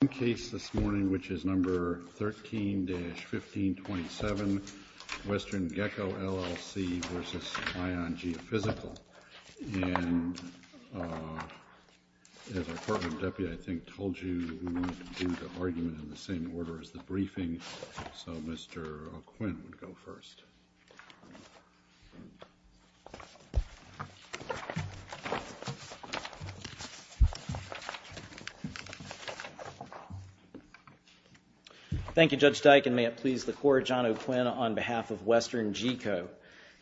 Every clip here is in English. We have one case this morning, which is No. 13-1527, WesternGeco L.L.C. v. ION Geophysical. And as our department deputy, I think, told you, we want to do the argument in the same order as the briefing. So Mr. O'Quinn would go first. Thank you, Judge Dike, and may it please the Court, John O'Quinn on behalf of WesternGeco.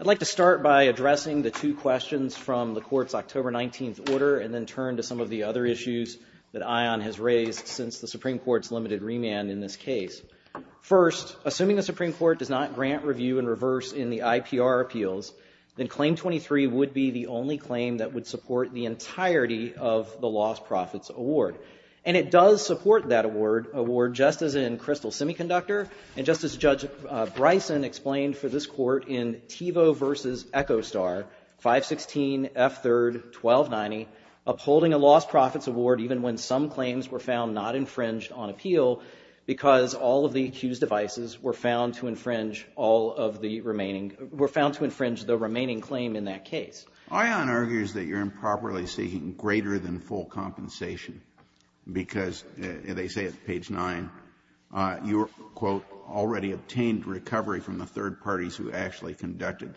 I'd like to start by addressing the two questions from the Court's October 19th order and then turn to some of the other issues that ION has raised since the Supreme Court's limited remand in this case. First, assuming the Supreme Court does not grant review and reverse in the IPR appeals, then Claim 23 would be the only claim that would support the entirety of the Lost Profits Award. And it does support that award, just as in Crystal Semiconductor, and just as Judge Bryson explained for this Court in Tevo v. Echostar, 516 F. 3rd 1290, upholding a Lost Profits Award even when some claims were found not infringed on appeal because all of the accused devices were found to infringe all of the remaining, were found to infringe the remaining claim in that case. ION argues that you're improperly seeking greater than full compensation because, they say at page 9, you were, quote, already obtained recovery from the third parties who actually conducted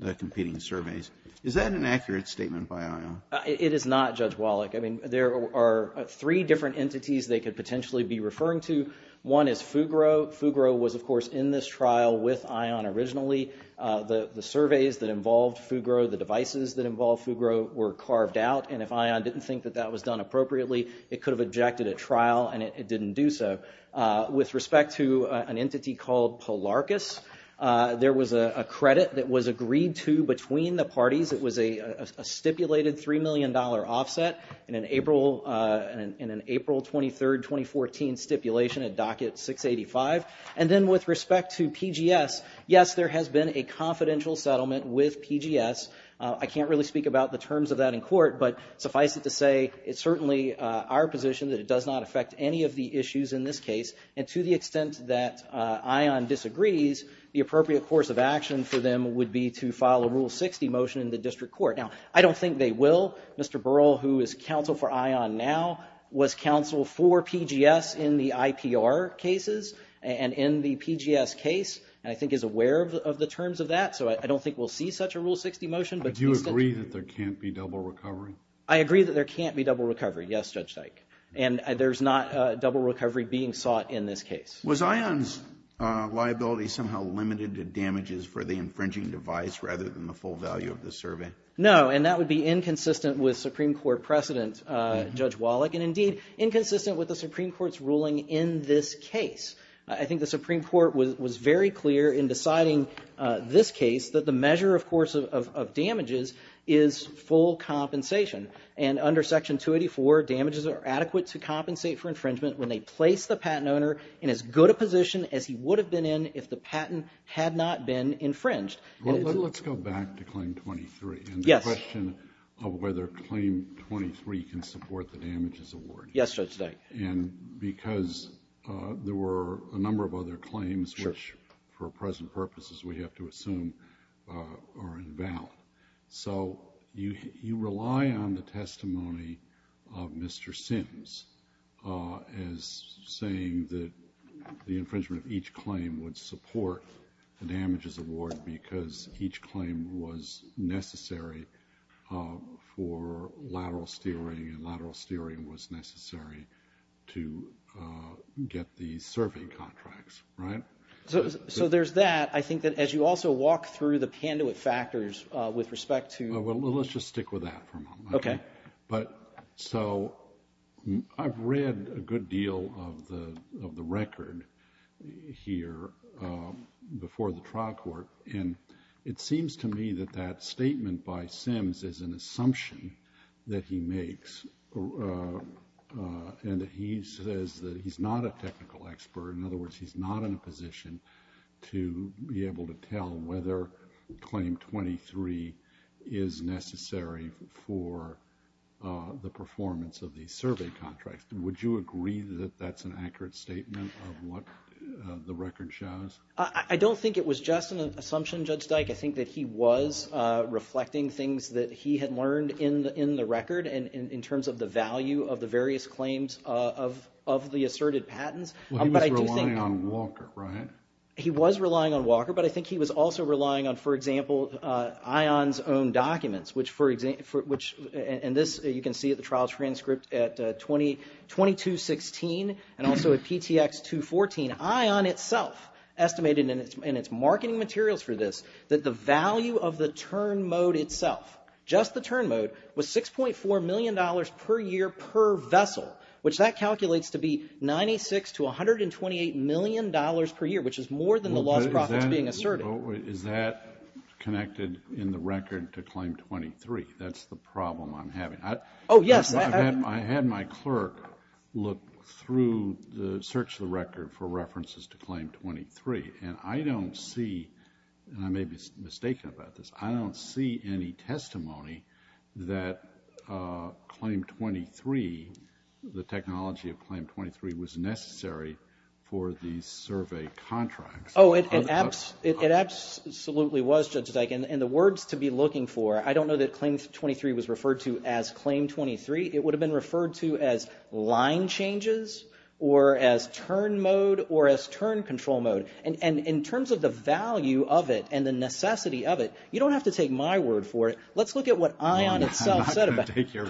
the competing surveys. Is that an accurate statement by ION? It is not, Judge Wallach. I mean, there are three different entities they could potentially be referring to. One is Fugro. Fugro was, of course, in this trial with ION originally. The surveys that involved Fugro, the devices that involved Fugro were carved out, and if ION didn't think that that was done appropriately, it could have objected at trial, and it didn't do so. With respect to an entity called Polarcus, there was a credit that was agreed to between the parties. It was a stipulated $3 million offset in an April 23, 2014 stipulation at Docket 685. And then with respect to PGS, yes, there has been a confidential settlement with PGS. I can't really speak about the terms of that in court, but suffice it to say it's certainly our position that it does not affect any of the issues in this case, and to the extent that ION disagrees, the appropriate course of action for them would be to file a Rule 60 motion in the district court. Now, I don't think they will. Mr. Burrell, who is counsel for ION now, was counsel for PGS in the IPR cases, and in the PGS case, and I think is aware of the terms of that, so I don't think we'll see such a Rule 60 motion. But do you agree that there can't be double recovery? I agree that there can't be double recovery, yes, Judge Dyke. And there's not double recovery being sought in this case. Was ION's liability somehow limited to damages for the infringing device rather than the full value of the survey? No, and that would be inconsistent with Supreme Court precedent, Judge Wallach, and indeed inconsistent with the Supreme Court's ruling in this case. I think the Supreme Court was very clear in deciding this case that the measure, of course, of damages is full compensation, and under Section 284, damages are adequate to compensate for infringement when they place the patent owner in as good a position as he would have been in if the patent had not been infringed. Let's go back to Claim 23. Yes. And the question of whether Claim 23 can support the damages award. Yes, Judge Dyke. And because there were a number of other claims which, for present purposes, we have to assume are invalid. So you rely on the testimony of Mr. Sims as saying that the infringement of each claim would support the damages award because each claim was necessary for lateral steering, and lateral steering was necessary to get the survey contracts, right? So there's that. I think that as you also walk through the Panduit factors with respect to— Well, let's just stick with that for a moment. Okay. So I've read a good deal of the record here before the trial court, and it seems to me that that statement by Sims is an assumption that he makes, and that he says that he's not a technical expert. In other words, he's not in a position to be able to tell whether Claim 23 is necessary for the performance of the survey contracts. Would you agree that that's an accurate statement of what the record shows? I don't think it was just an assumption, Judge Dyke. I think that he was reflecting things that he had learned in the record in terms of the value of the various claims of the asserted patents. Well, he was relying on Walker, right? He was relying on Walker, but I think he was also relying on, for example, ION's own documents, and this you can see at the trial transcript at 2216 and also at PTX 214. ION itself estimated in its marketing materials for this that the value of the turn mode itself, just the turn mode, was $6.4 million per year per vessel, which that calculates to be $96 to $128 million per year, which is more than the lost profits being asserted. Is that connected in the record to Claim 23? That's the problem I'm having. Oh, yes. I had my clerk look through the search of the record for references to Claim 23, and I don't see, and I may be mistaken about this, I don't see any testimony that Claim 23, the technology of Claim 23 was necessary for the survey contracts. Oh, it absolutely was, Judge Dyke, and the words to be looking for, I don't know that Claim 23 was referred to as Claim 23. It would have been referred to as line changes or as turn mode or as turn control mode. And in terms of the value of it and the necessity of it, you don't have to take my word for it. Let's look at what ION itself said about it. I'm not going to take your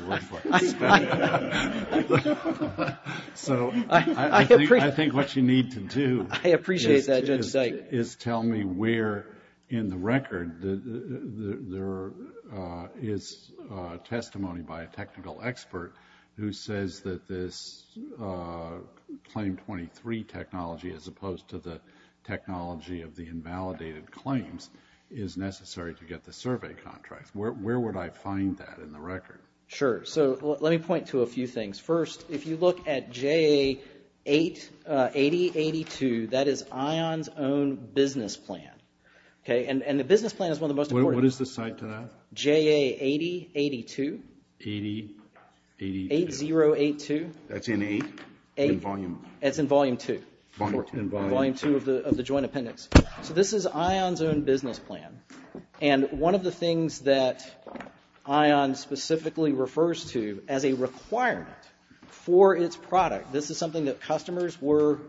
word for it. So I think what you need to do is tell me where in the record there is testimony by a technical expert who says that this Claim 23 technology, as opposed to the technology of the invalidated claims, is necessary to get the survey contracts. Where would I find that in the record? Sure. So let me point to a few things. First, if you look at JA8082, that is ION's own business plan. And the business plan is one of the most important. What is the site to that? JA8082. 8082. 8082. That's in 8? It's in volume 2. Volume 2. Volume 2 of the joint appendix. So this is ION's own business plan. And one of the things that ION specifically refers to as a requirement for its product, this is something that customers were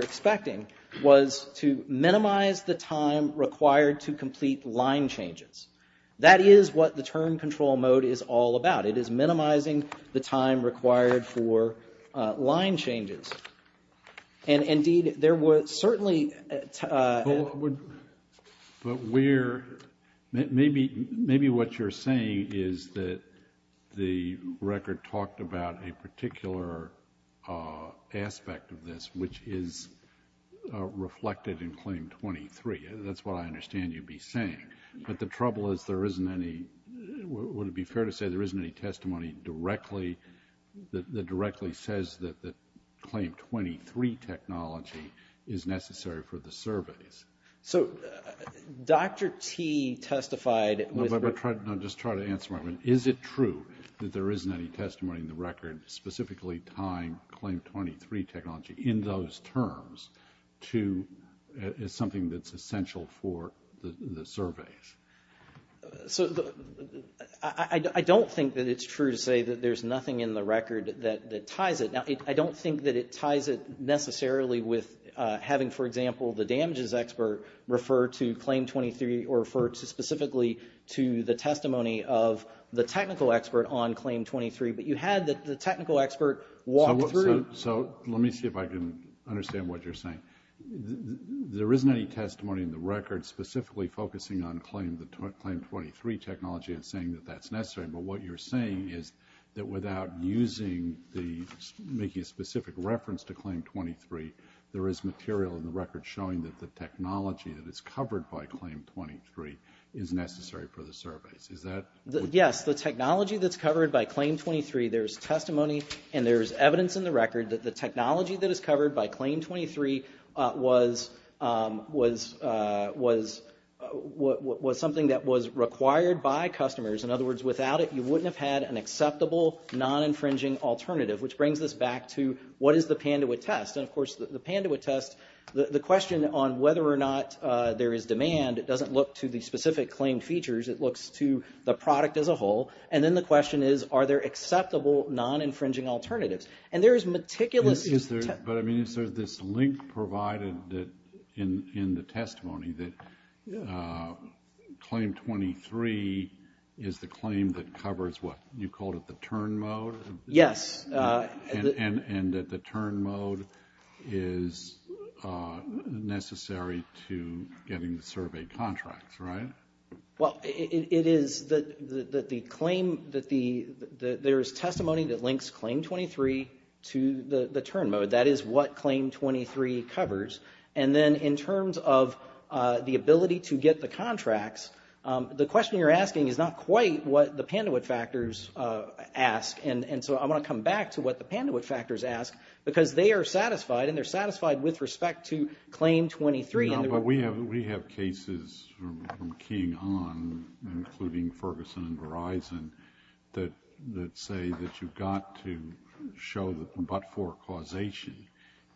expecting, was to minimize the time required to complete line changes. That is what the term control mode is all about. It is minimizing the time required for line changes. And indeed, there were certainly... But where... Maybe what you're saying is that the record talked about a particular aspect of this, which is reflected in Claim 23. That's what I understand you'd be saying. But the trouble is there isn't any... Would it be fair to say there isn't any testimony that directly says that Claim 23 technology is necessary for the surveys? So Dr. T testified... No, just try to answer my question. Is it true that there isn't any testimony in the record, specifically tying Claim 23 technology in those terms to something that's essential for the surveys? So I don't think that it's true to say that there's nothing in the record that ties it. Now, I don't think that it ties it necessarily with having, for example, the damages expert refer to Claim 23 or refer specifically to the testimony of the technical expert on Claim 23. But you had the technical expert walk through... So let me see if I can understand what you're saying. There isn't any testimony in the record specifically focusing on Claim 23 technology and saying that that's necessary. But what you're saying is that without using the... making a specific reference to Claim 23, there is material in the record showing that the technology that is covered by Claim 23 is necessary for the surveys. Is that... Yes, the technology that's covered by Claim 23, there's testimony and there's evidence in the record that the technology that is covered by Claim 23 was something that was required by customers. In other words, without it, you wouldn't have had an acceptable non-infringing alternative, which brings us back to what is the Pandewitt test? And, of course, the Pandewitt test, the question on whether or not there is demand doesn't look to the specific claim features. It looks to the product as a whole. And then the question is, are there acceptable non-infringing alternatives? And there is meticulous... But, I mean, is there this link provided in the testimony that Claim 23 is the claim that covers what? You called it the turn mode? Yes. And that the turn mode is necessary to getting the survey contracts, right? Well, it is that the claim... There is testimony that links Claim 23 to the turn mode. That is what Claim 23 covers. And then in terms of the ability to get the contracts, the question you're asking is not quite what the Pandewitt factors ask. And so I want to come back to what the Pandewitt factors ask because they are satisfied and they're satisfied with respect to Claim 23. No, but we have cases from keying on, including Ferguson and Verizon, that say that you've got to show the but-for causation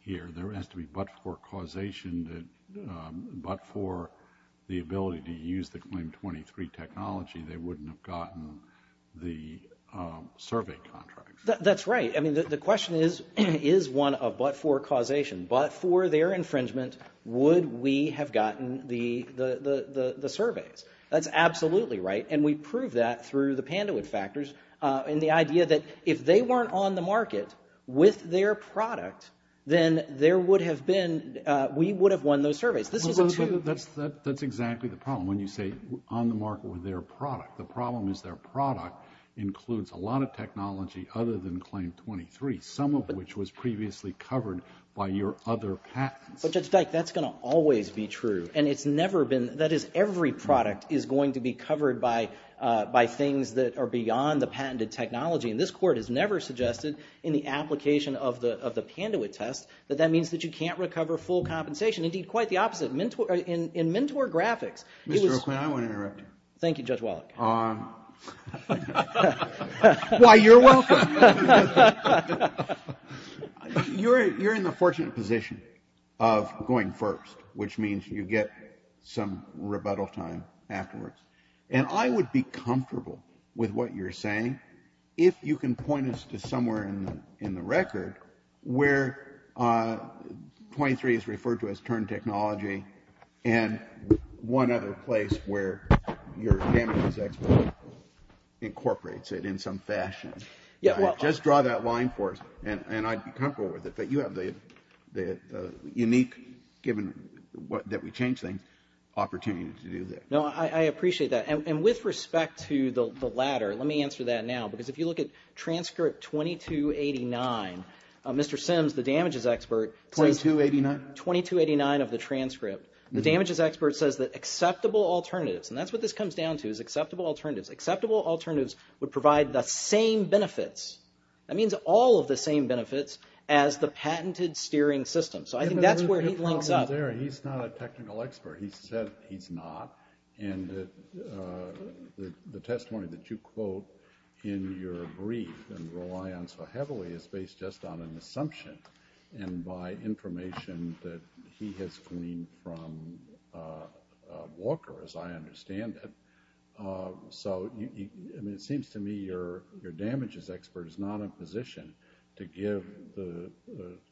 here. There has to be but-for causation that but-for the ability to use the Claim 23 technology, they wouldn't have gotten the survey contracts. That's right. I mean, the question is, is one a but-for causation? But for their infringement, would we have gotten the surveys? That's absolutely right, and we prove that through the Pandewitt factors and the idea that if they weren't on the market with their product, then there would have been... We would have won those surveys. This is a two... That's exactly the problem. When you say on the market with their product, the problem is their product includes a lot of technology other than Claim 23, some of which was previously covered by your other patents. But Judge Dyke, that's going to always be true, and it's never been... That is, every product is going to be covered by things that are beyond the patented technology, and this Court has never suggested in the application of the Pandewitt test that that means that you can't recover full compensation. Indeed, quite the opposite. In Mentor Graphics, it was... Mr. Oakley, I won't interrupt you. Thank you, Judge Wallach. Why, you're welcome. You're in the fortunate position of going first, which means you get some rebuttal time afterwards. And I would be comfortable with what you're saying if you can point us to somewhere in the record where 23 is referred to as turned technology and one other place where your damages expert incorporates it in some fashion. Just draw that line for us, and I'd be comfortable with it. But you have the unique, given that we change things, opportunity to do that. No, I appreciate that. And with respect to the latter, let me answer that now, because if you look at transcript 2289, Mr. Sims, the damages expert... 2289? 2289 of the transcript. The damages expert says that acceptable alternatives, and that's what this comes down to, is acceptable alternatives. Acceptable alternatives would provide the same benefits, that means all of the same benefits, as the patented steering system. So I think that's where he links up. He's not a technical expert. He said he's not. And the testimony that you quote in your brief and rely on so heavily is based just on an assumption and by information that he has gleaned from Walker, as I understand it. So, I mean, it seems to me your damages expert is not in a position to give the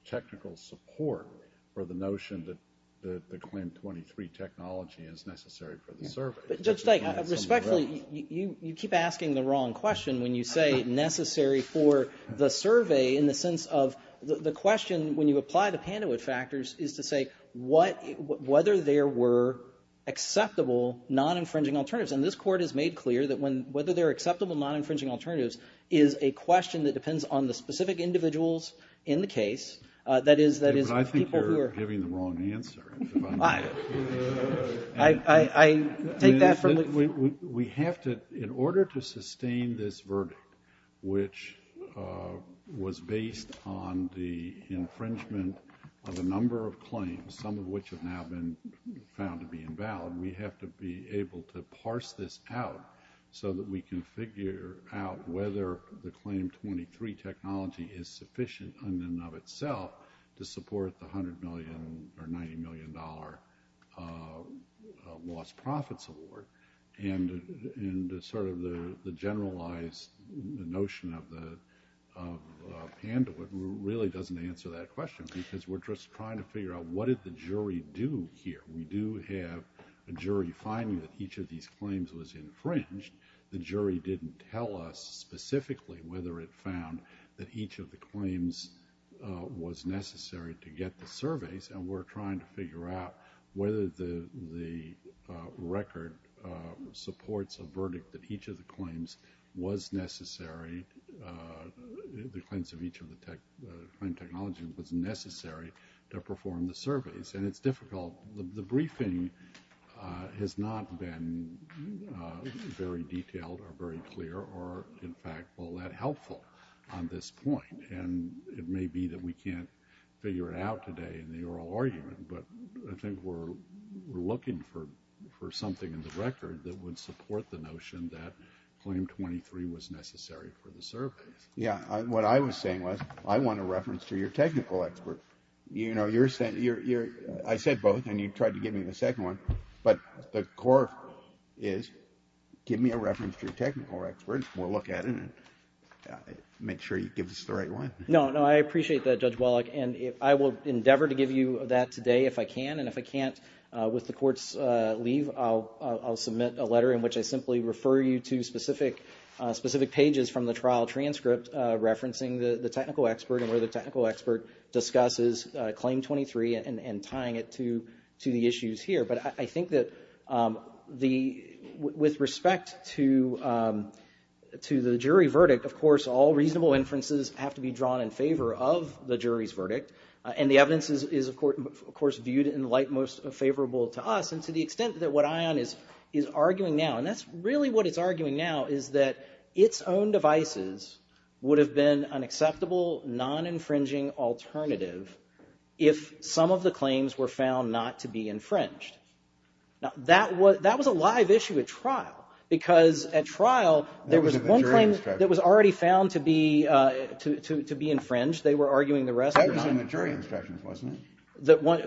technical support for the notion that the Claim 23 technology is necessary for the survey. Judge Dyke, respectfully, you keep asking the wrong question when you say necessary for the survey in the sense of the question, when you apply the Pandewitt factors, is to say whether there were acceptable non-infringing alternatives. And this Court has made clear that whether there are acceptable non-infringing alternatives is a question that depends on the specific individuals in the case, that is, people who are... I think you're giving the wrong answer. I take that from... We have to, in order to sustain this verdict, which was based on the infringement of a number of claims, some of which have now been found to be invalid, we have to be able to parse this out so that we can figure out whether the Claim 23 technology is sufficient in and of itself to support the $100 million or $90 million lost profits award. And sort of the generalized notion of Pandewitt really doesn't answer that question because we're just trying to figure out what did the jury do here? We do have a jury finding that each of these claims was infringed. The jury didn't tell us specifically whether it found that each of the claims was necessary to get the surveys, and we're trying to figure out whether the record supports a verdict that each of the claims was necessary, the claims of each of the technology was necessary to perform the surveys. And it's difficult. The briefing has not been very detailed or very clear or, in fact, all that helpful on this point. And it may be that we can't figure it out today in the oral argument, but I think we're looking for something in the record that would support the notion that Claim 23 was necessary for the surveys. Yeah, what I was saying was I want a reference to your technical expert. You know, I said both, and you tried to give me the second one, but the core is give me a reference to your technical expert and we'll look at it and make sure you give us the right one. No, no, I appreciate that, Judge Wallach, and I will endeavor to give you that today if I can, and if I can't, with the Court's leave, I'll submit a letter in which I simply refer you to specific pages from the trial transcript referencing the technical expert and where the technical expert discusses Claim 23 and tying it to the issues here. But I think that with respect to the jury verdict, of course all reasonable inferences have to be drawn in favor of the jury's verdict, and the evidence is, of course, viewed in the light most favorable to us, and to the extent that what Ion is arguing now, and that's really what it's arguing now, is that its own devices would have been an acceptable non-infringing alternative if some of the claims were found not to be infringed. Now, that was a live issue at trial, because at trial there was one claim that was already found to be infringed. They were arguing the rest were not. That was in the jury instructions, wasn't it? That one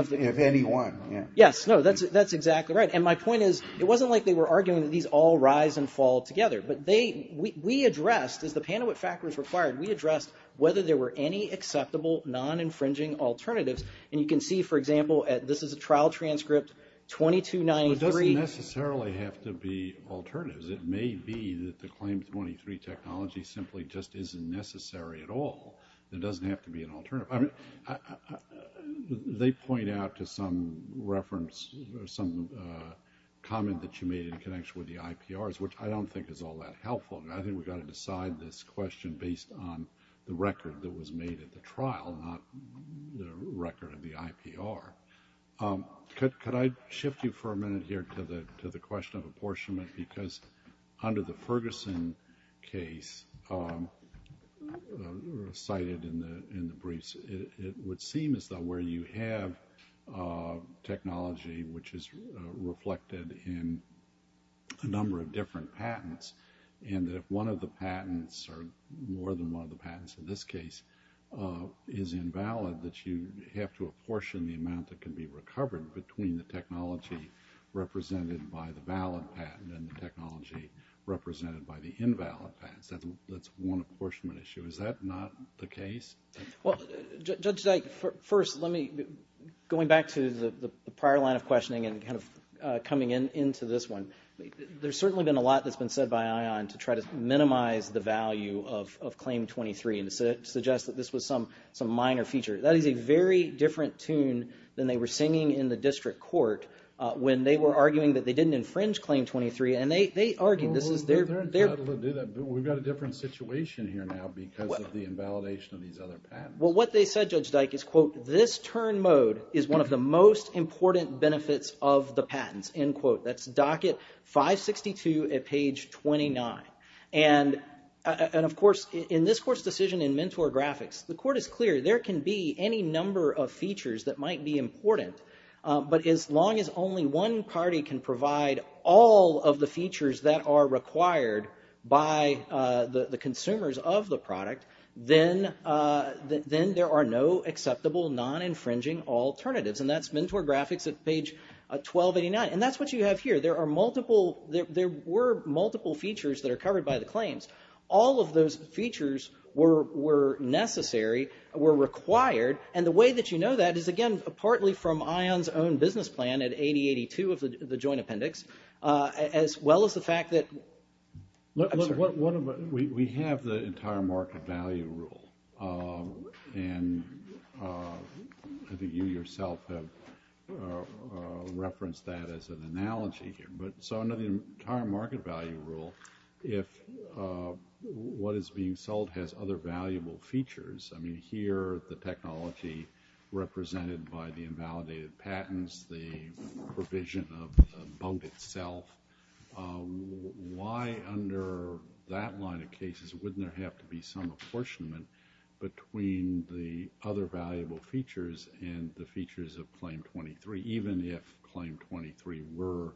of the... If any one, yeah. Yes, no, that's exactly right, and my point is it wasn't like they were arguing that these all rise and fall together, but we addressed, as the Pandewitt factors required, we addressed whether there were any acceptable non-infringing alternatives, and you can see, for example, this is a trial transcript 2293... It doesn't necessarily have to be alternatives. It may be that the claim 23 technology simply just isn't necessary at all. It doesn't have to be an alternative. I mean, they point out to some reference, some comment that you made in connection with the IPRs, which I don't think is all that helpful, and I think we've got to decide this question based on the record that was made at the trial, not the record of the IPR. Could I shift you for a minute here to the question of apportionment? Because under the Ferguson case cited in the briefs, it would seem as though where you have technology which is reflected in a number of different patents and that if one of the patents or more than one of the patents in this case is invalid, that you have to apportion the amount that can be recovered between the technology represented by the valid patent and the technology represented by the invalid patent. That's one apportionment issue. Is that not the case? Well, Judge Dyke, first, let me... Going back to the prior line of questioning and kind of coming into this one, there's certainly been a lot that's been said by ION to try to minimize the value of claim 23 and to suggest that this was some minor feature. That is a very different tune than they were singing in the district court when they were arguing that they didn't infringe claim 23, and they argued this is their... They're entitled to do that, but we've got a different situation here now because of the invalidation of these other patents. Well, what they said, Judge Dyke, is, quote, this turn mode is one of the most important benefits of the patents, end quote. That's docket 562 at page 29. And, of course, in this court's decision in Mentor Graphics, the court is clear there can be any number of features that might be important, but as long as only one party can provide all of the features that are required by the consumers of the product, then there are no acceptable non-infringing alternatives, and that's Mentor Graphics at page 1289. And that's what you have here. There are multiple... There were multiple features that are covered by the claims. All of those features were necessary, were required, and the way that you know that is, again, partly from ION's own business plan at 8082 of the joint appendix, as well as the fact that... I'm sorry. We have the entire market value rule, and I think you yourself have referenced that as an analogy here, but so under the entire market value rule, if what is being sold has other valuable features, I mean, here, the technology represented by the invalidated patents, the provision of the bunk itself, why under that line of cases wouldn't there have to be some apportionment between the other valuable features and the features of Claim 23, even if Claim 23 were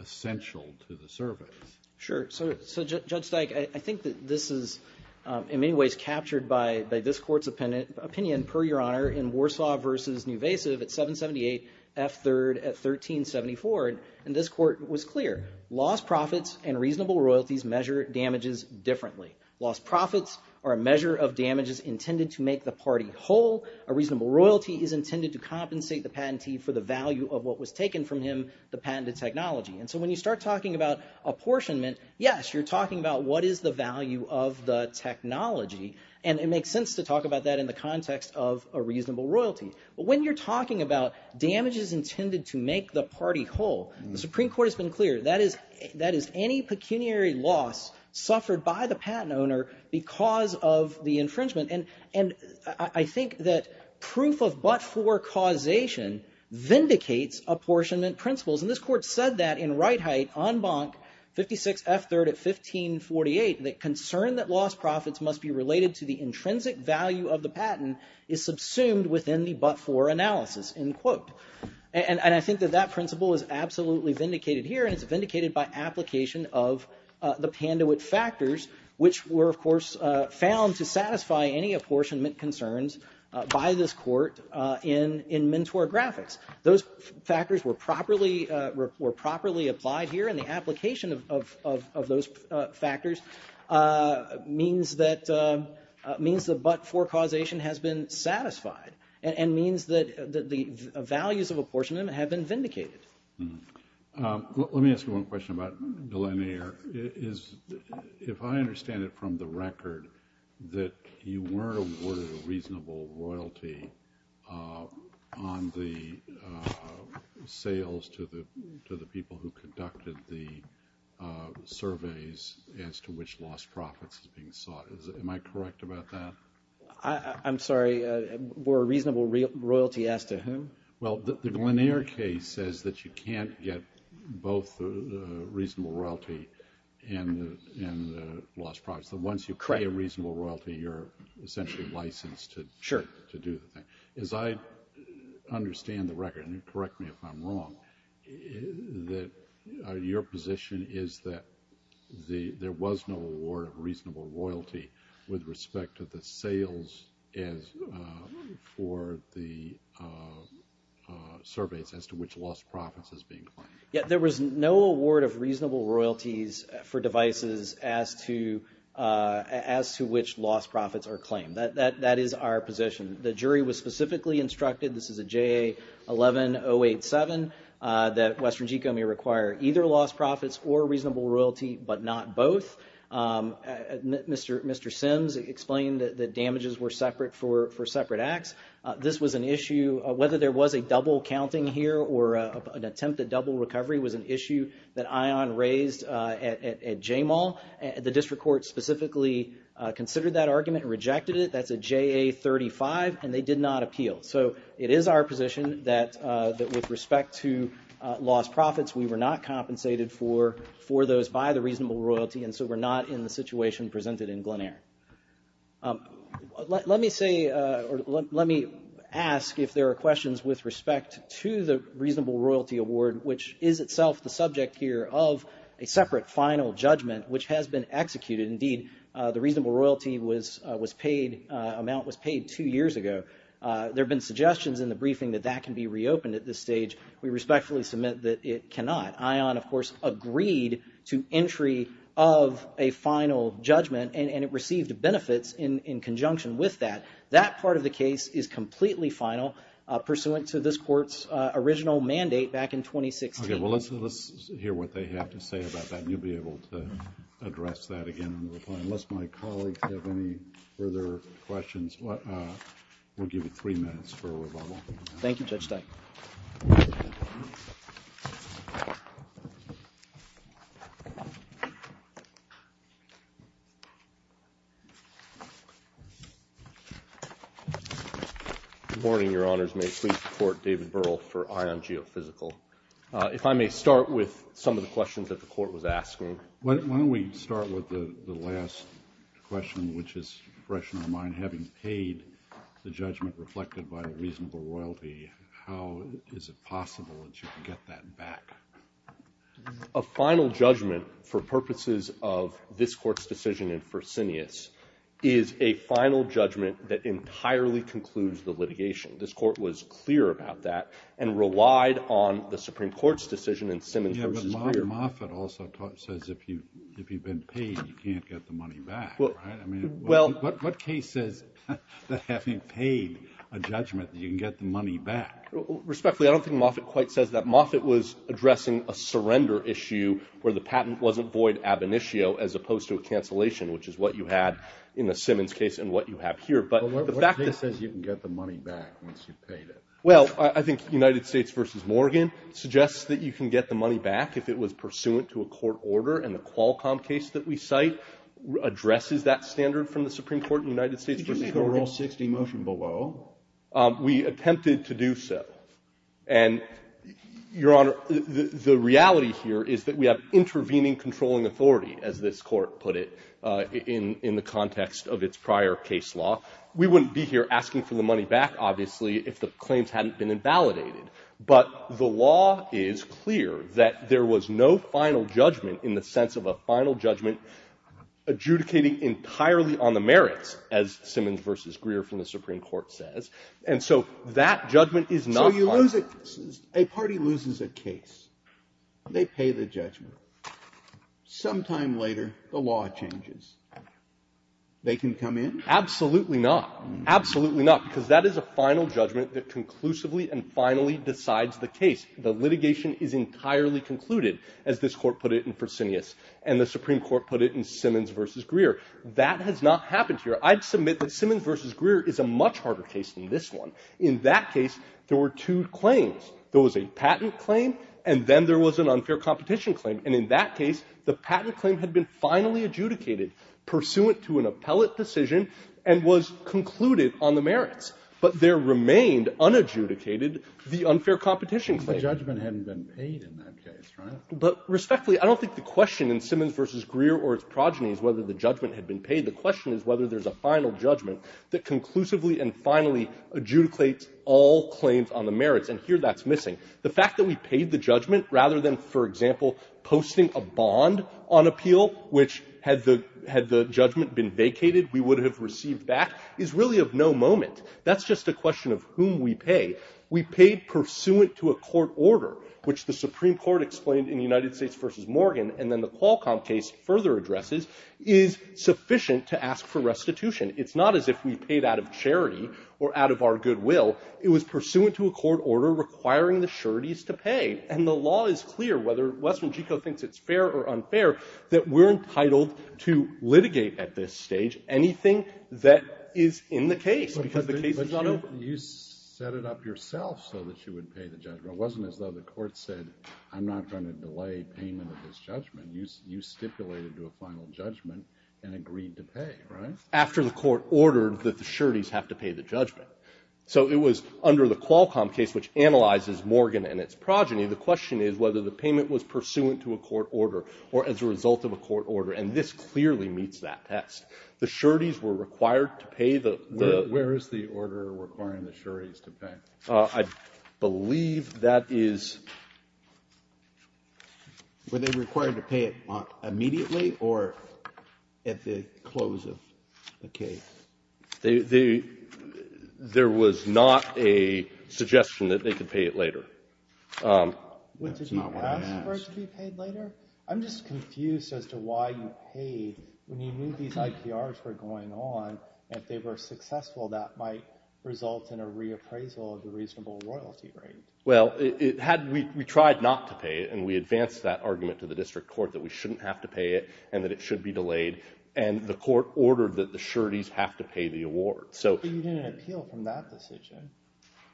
essential to the service? Sure. So, Judge Steig, I think that this is, in many ways, captured by this court's opinion, per your honor, in Warsaw v. Nuvasiv at 778 F. 3rd at 1374, and this court was clear. Lost profits and reasonable royalties measure damages differently. Lost profits are a measure of damages intended to make the party whole. A reasonable royalty is intended to compensate the patentee for the value of what was taken from him, the patented technology, and so when you start talking about apportionment, yes, you're talking about what is the value of the technology, and it makes sense to talk about that in the context of a reasonable royalty, but when you're talking about damages intended to make the party whole, the Supreme Court has been clear. That is any pecuniary loss suffered by the patent owner because of the infringement, and I think that proof of but-for causation vindicates apportionment principles, and this court said that in Reithe on Bunk 56 F. 3rd at 1548 that concern that lost profits must be related to the intrinsic value of the patent is subsumed within the but-for analysis, end quote. And I think that that principle is absolutely vindicated here, and it's vindicated by application of the Pandewitt factors, which were, of course, found to satisfy any apportionment concerns by this court in Mentor Graphics. Those factors were properly applied here, and the application of those factors means that but-for causation has been satisfied and means that the values of apportionment have been vindicated. Let me ask you one question about Delanier. If I understand it from the record that you weren't awarded a reasonable royalty on the sales to the people who conducted the surveys as to which lost profits is being sought. Am I correct about that? I'm sorry. We're a reasonable royalty as to whom? Well, the Delanier case says that you can't get both the reasonable royalty and the lost profits. Once you pay a reasonable royalty, you're essentially licensed to do the thing. As I understand the record, and correct me if I'm wrong, your position is that there was no award of reasonable royalty with respect to the sales for the surveys as to which lost profits is being claimed. Yeah, there was no award of reasonable royalties for devices as to which lost profits are claimed. That is our position. The jury was specifically instructed, this is a JA11087, that Western Geco may require either lost profits or reasonable royalty but not both. Mr. Sims explained that the damages were separate for separate acts. This was an issue, whether there was a double counting here or an attempt at double recovery was an issue that ION raised at J-Mall. The district court specifically considered that argument and rejected it. That's a JA35, and they did not appeal. So it is our position that with respect to lost profits, we were not compensated for those by the reasonable royalty, and so we're not in the situation presented in Glen Eyre. Let me ask if there are questions with respect to the reasonable royalty award, which is itself the subject here of a separate final judgment which has been executed. Indeed, the reasonable royalty amount was paid two years ago. There have been suggestions in the briefing that that can be reopened at this stage. We respectfully submit that it cannot. ION, of course, agreed to entry of a final judgment, and it received benefits in conjunction with that. That part of the case is completely final, pursuant to this court's original mandate back in 2016. Okay, well, let's hear what they have to say about that, and you'll be able to address that again in reply. Unless my colleagues have any further questions, we'll give you three minutes for rebuttal. Thank you, Judge Stein. Good morning, Your Honors. May it please the Court, David Burrell for ION Geophysical. If I may start with some of the questions that the Court was asking. Why don't we start with the last question, which is fresh in our mind. Having paid the judgment reflected by the reasonable royalty, how is it possible that you can get that back? A final judgment for purposes of this Court's decision in Firsinius is a final judgment that entirely concludes the litigation. This Court was clear about that and relied on the Supreme Court's decision in Simmons v. Greer. Yeah, but Moffitt also says if you've been paid, you can't get the money back, right? I mean, what case says that having paid a judgment that you can get the money back? Respectfully, I don't think Moffitt quite says that. Moffitt was addressing a surrender issue where the patent wasn't void ab initio as opposed to a cancellation, which is what you had in the Simmons case and what you have here. What case says you can get the money back once you've paid it? Well, I think United States v. Morgan suggests that you can get the money back if it was pursuant to a court order, addresses that standard from the Supreme Court in United States v. Morgan. We attempted to do so. And, Your Honor, the reality here is that we have intervening controlling authority, as this Court put it, in the context of its prior case law. We wouldn't be here asking for the money back, obviously, if the claims hadn't been invalidated. But the law is clear that there was no final judgment in the sense of a final judgment adjudicating entirely on the merits, as Simmons v. Greer from the Supreme Court says. And so that judgment is not final. So you lose it. A party loses a case. They pay the judgment. Sometime later, the law changes. They can come in? Absolutely not. Absolutely not. Because that is a final judgment that conclusively and finally decides the case. The litigation is entirely concluded, as this Court put it in Fresenius, and the Supreme Court put it in Simmons v. Greer. That has not happened here. I'd submit that Simmons v. Greer is a much harder case than this one. In that case, there were two claims. There was a patent claim, and then there was an unfair competition claim. And in that case, the patent claim had been finally adjudicated, pursuant to an appellate decision, and was concluded on the merits. But there remained, unadjudicated, the unfair competition claim. But judgment hadn't been paid in that case, right? But respectfully, I don't think the question in Simmons v. Greer or its progeny is whether the judgment had been paid. The question is whether there's a final judgment that conclusively and finally adjudicates all claims on the merits. And here, that's missing. The fact that we paid the judgment, rather than, for example, posting a bond on appeal, which, had the judgment been vacated, we would have received back, is really of no moment. That's just a question of whom we pay. We paid pursuant to a court order, which the Supreme Court explained in United States v. Morgan, and then the Qualcomm case further addresses, is sufficient to ask for restitution. It's not as if we paid out of charity or out of our goodwill. It was pursuant to a court order requiring the sureties to pay. And the law is clear, whether Westman Gico thinks it's fair or unfair, that we're entitled to litigate at this stage anything that is in the case, because the case is not open. But you set it up yourself so that you would pay the judgment. It wasn't as though the court said, I'm not going to delay payment of this judgment. You stipulated to a final judgment and agreed to pay, right? After the court ordered that the sureties have to pay the judgment. So it was under the Qualcomm case, which analyzes Morgan and its progeny, the question is whether the payment was pursuant to a court order or as a result of a court order. And this clearly meets that test. The sureties were required to pay the... Where is the order requiring the sureties to pay? I believe that is... Were they required to pay it immediately or at the close of the case? There was not a suggestion that they could pay it later. Did you ask for it to be paid later? I'm just confused as to why you paid when you knew these IPRs were going on. If they were successful, that might result in a reappraisal of the reasonable royalty rate. Well, we tried not to pay it and we advanced that argument to the district court that we shouldn't have to pay it and that it should be delayed. And the court ordered that the sureties have to pay the award. But you didn't appeal from that decision.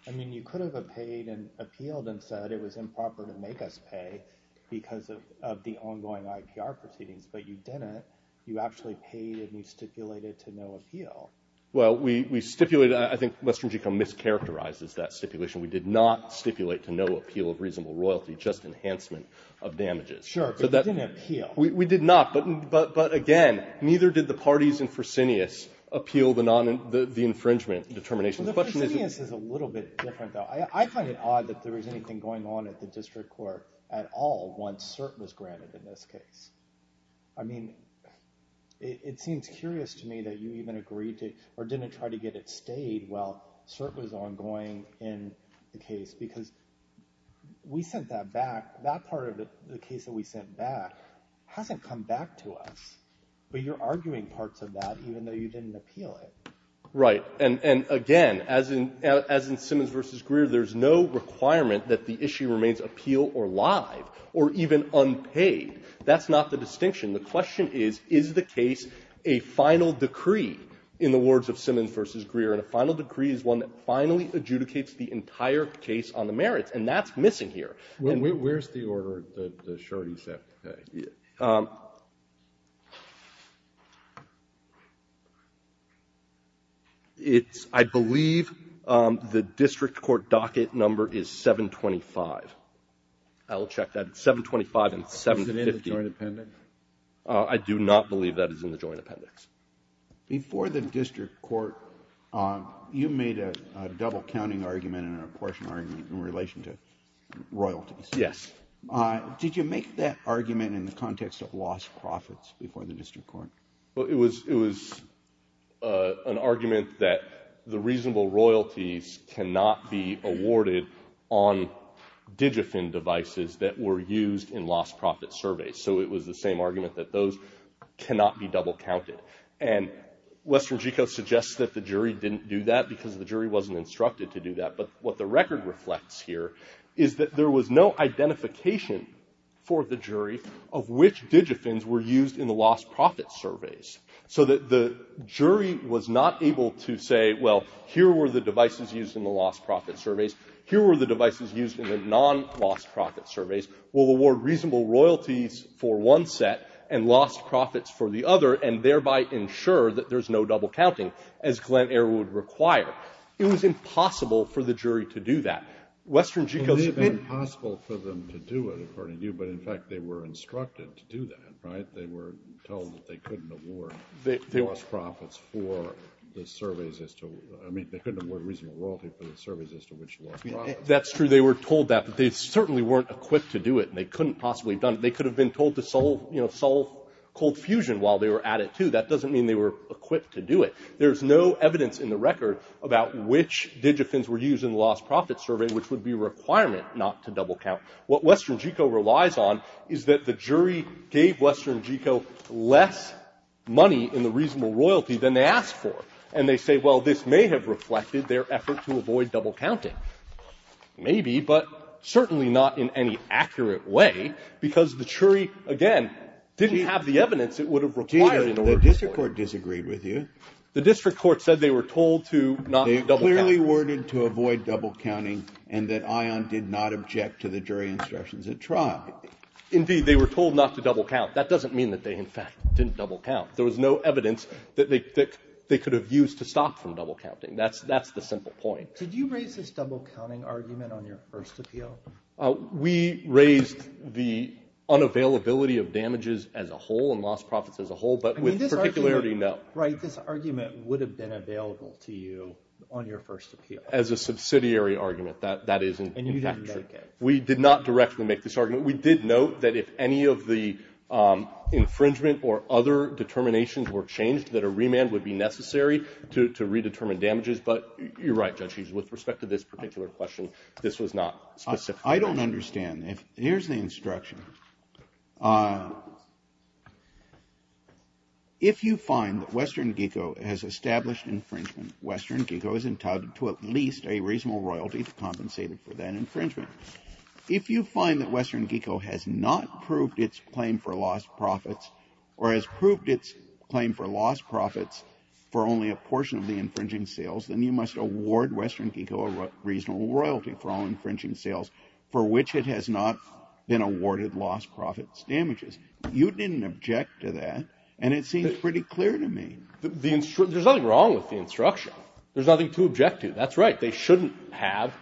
I mean, you could have appealed and said it was improper to make us pay because of the ongoing IPR proceedings, but you didn't. You actually paid and you stipulated to no appeal. Well, we stipulated... I think Western Geco mischaracterizes that stipulation. We did not stipulate to no appeal of reasonable royalty, just enhancement of damages. Sure, but you didn't appeal. We did not, but again, neither did the parties in Fresenius appeal the infringement determination. Fresenius is a little bit different, though. I find it odd that there was anything going on at the district court at all once cert was granted in this case. I mean, it seems curious to me that you even agreed to or didn't try to get it stayed while cert was ongoing in the case because we sent that back. That part of the case that we sent back hasn't come back to us. But you're arguing parts of that even though you didn't appeal it. Right, and again, as in Simmons v. Greer, there's no requirement that the issue remains appeal or live or even unpaid. That's not the distinction. The question is, is the case a final decree in the words of Simmons v. Greer, and a final decree is one that finally adjudicates the entire case on the merits, and that's missing here. Where's the order that the shorty sent back? I believe the district court docket number is 725. I will check that. It's 725 and 750. Is it in the joint appendix? I do not believe that is in the joint appendix. Before the district court, you made a double-counting argument and an apportionment argument in relation to royalties. Yes. Did you make that argument in the context of lost profits before the district court? It was an argument that the reasonable royalties cannot be awarded on Digifin devices that were used in lost-profit surveys, so it was the same argument that those cannot be double-counted. And Western Geco suggests that the jury didn't do that because the jury wasn't instructed to do that, but what the record reflects here is that there was no identification for the jury of which Digifins were used in the lost-profit surveys, so that the jury was not able to say, well, here were the devices used in the lost-profit surveys, here were the devices used in the non-lost-profit surveys, we'll award reasonable royalties for one set and lost profits for the other and thereby ensure that there's no double-counting, as Glenn Eyre would require. It was impossible for the jury to do that. It would have been impossible for them to do it, according to you, but in fact they were instructed to do that, right? They were told that they couldn't award lost profits for the surveys as to... I mean, they couldn't award reasonable royalties for the surveys as to which lost profits. That's true, they were told that, but they certainly weren't equipped to do it and they couldn't possibly have done it. They could have been told to solve cold fusion while they were at it, too. That doesn't mean they were equipped to do it. There's no evidence in the record about which Digifins were used in the lost-profit survey, which would be a requirement not to double-count. What Western Geco relies on is that the jury gave Western Geco less money in the reasonable royalty than they asked for, and they say, well, this may have reflected their effort to avoid double-counting. Maybe, but certainly not in any accurate way because the jury, again, didn't have the evidence it would have required in order to do it. The district court disagreed with you. The district court said they were told to not double-count. They clearly worded to avoid double-counting and that ION did not object to the jury instructions at trial. Indeed, they were told not to double-count. That doesn't mean that they, in fact, didn't double-count. There was no evidence that they could have used to stop from double-counting. That's the simple point. Did you raise this double-counting argument on your first appeal? We raised the unavailability of damages as a whole and lost profits as a whole, but with particularity, no. Right, this argument would have been available to you on your first appeal. As a subsidiary argument, that is, in fact, true. And you didn't make it. We did not directly make this argument. We did note that if any of the infringement or other determinations were changed, that a remand would be necessary to redetermine damages. But you're right, Judge, with respect to this particular question, this was not specific. I don't understand. Here's the instruction. If you find that Western GECO has established infringement, Western GECO is entitled to at least a reasonable royalty compensated for that infringement. If you find that Western GECO has not proved its claim for lost profits or has proved its claim for lost profits for only a portion of the infringing sales, then you must award Western GECO a reasonable royalty for all infringing sales for which it has not been awarded lost profits damages. You didn't object to that, and it seems pretty clear to me. There's nothing wrong with the instruction. There's nothing to object to. That's right. They shouldn't have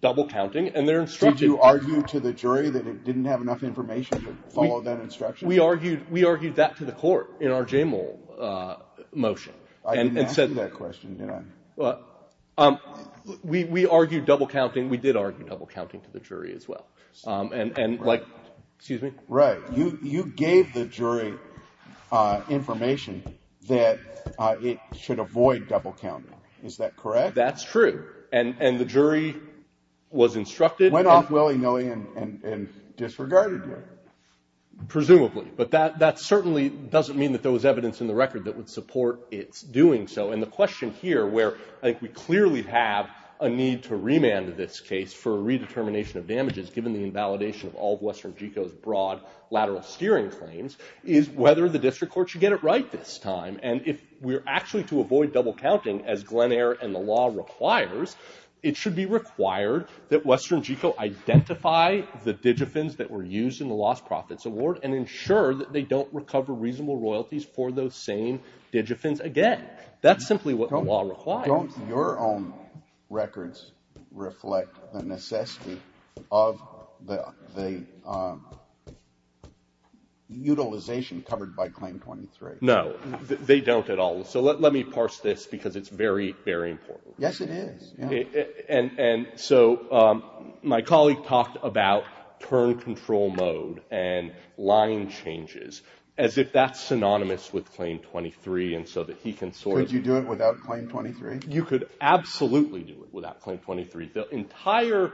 double-counting, and they're instructive. Did you argue to the jury that it didn't have enough information to follow that instruction? We argued that to the court in our JAMAL motion. I didn't ask you that question, did I? We argued double-counting. We did argue double-counting to the jury as well. Right. You gave the jury information that it should avoid double-counting. Is that correct? That's true, and the jury was instructed. Went off willy-nilly and disregarded you. Presumably, but that certainly doesn't mean that there was evidence in the record that would support its doing so. And the question here where I think we clearly have a need to remand this case for a redetermination of damages given the invalidation of all of Western GECO's broad lateral steering claims is whether the district court should get it right this time. And if we're actually to avoid double-counting, as Glen Eyre and the law requires, it should be required that Western GECO identify the digifins that were used in the lost profits award and ensure that they don't recover reasonable royalties for those same digifins again. That's simply what the law requires. Don't your own records reflect the necessity of the utilization covered by Claim 23? No, they don't at all. So let me parse this because it's very, very important. Yes, it is. And so my colleague talked about turn control mode and line changes as if that's synonymous with Claim 23 and so that he can sort of... Could you do it without Claim 23? You could absolutely do it without Claim 23. The entire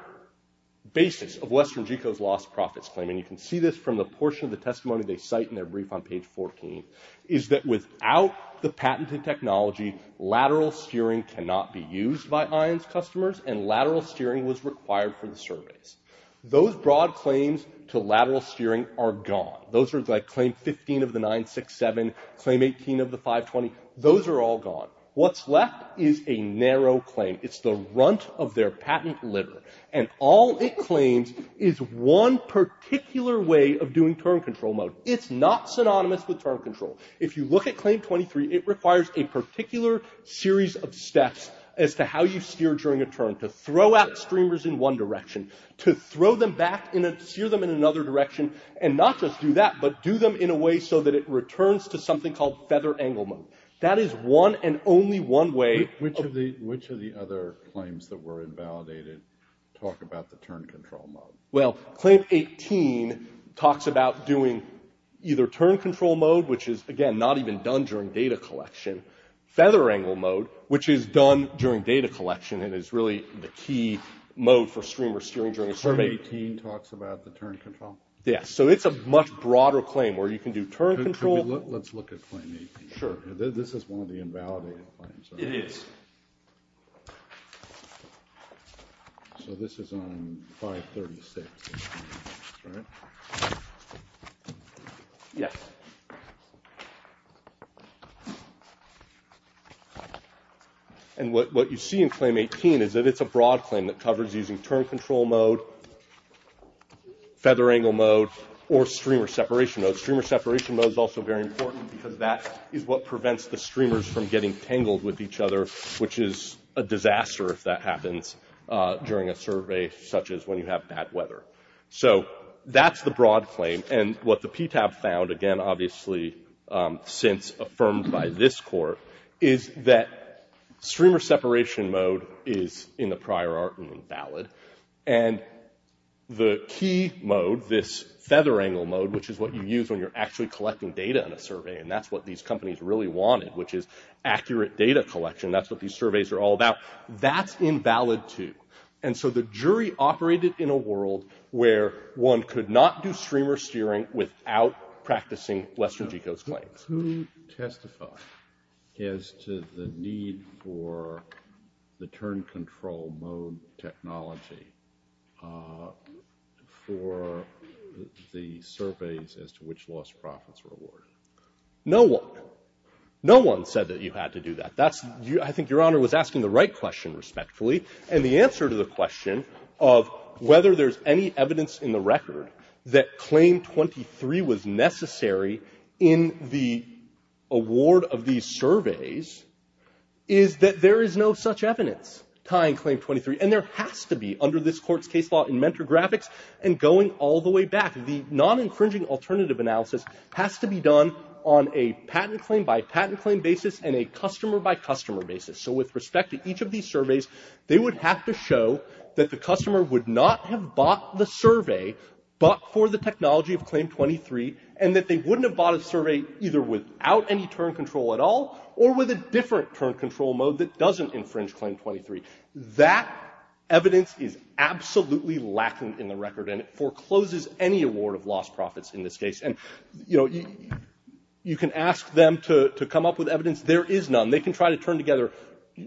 basis of Western GECO's lost profits claim, and you can see this from the portion of the testimony they cite in their brief on page 14, is that without the patented technology, lateral steering cannot be used by IONS customers and lateral steering was required for the surveys. Those broad claims to lateral steering are gone. Those are like Claim 15 of the 967, Claim 18 of the 520. Those are all gone. What's left is a narrow claim. It's the runt of their patent litter, and all it claims is one particular way of doing turn control mode. It's not synonymous with turn control. If you look at Claim 23, it requires a particular series of steps as to how you steer during a turn to throw out streamers in one direction, to throw them back and steer them in another direction, and not just do that, but do them in a way so that it returns to something called feather angle mode. That is one and only one way... Which of the other claims that were invalidated talk about the turn control mode? Well, Claim 18 talks about doing either turn control mode, which is, again, not even done during data collection, feather angle mode, which is done during data collection and is really the key mode for streamer steering during a survey. Claim 18 talks about the turn control? Yeah, so it's a much broader claim where you can do turn control... Let's look at Claim 18. Sure. This is one of the invalidated claims. It is. So this is on 536, right? Yes. And what you see in Claim 18 is that it's a broad claim that covers using turn control mode, feather angle mode, or streamer separation mode. Streamer separation mode is also very important because that is what prevents the streamers from getting tangled with each other, which is a disaster if that happens during a survey such as when you have bad weather. So that's the broad claim. And what the PTAB found, again, obviously, since affirmed by this court, is that streamer separation mode is, in the prior art, invalid. And the key mode, this feather angle mode, which is what you use when you're actually collecting data in a survey, and that's what these companies really wanted, which is accurate data collection. That's what these surveys are all about. That's invalid, too. And so the jury operated in a world where one could not do streamer steering without practicing Western Geco's claims. No one. No one said that you had to do that. I think Your Honor was asking the right question, respectfully. And the answer to the question of whether there's any evidence in the record that Claim 23 was necessary in the award of these surveys is that there is no such evidence tying Claim 23. And there has to be under this court's case law in Mentor Graphics and going all the way back. The non-incringing alternative analysis has to be done on a patent claim by patent claim basis and a customer by customer basis. So with respect to each of these surveys, they would have to show that the customer would not have bought the survey but for the technology of Claim 23, and that they wouldn't have bought a survey either without any turn control at all or with a different turn control mode that doesn't infringe Claim 23. That evidence is absolutely lacking in the record, and it forecloses any award of lost profits in this case. And, you know, you can ask them to come up with evidence. There is none. They can try to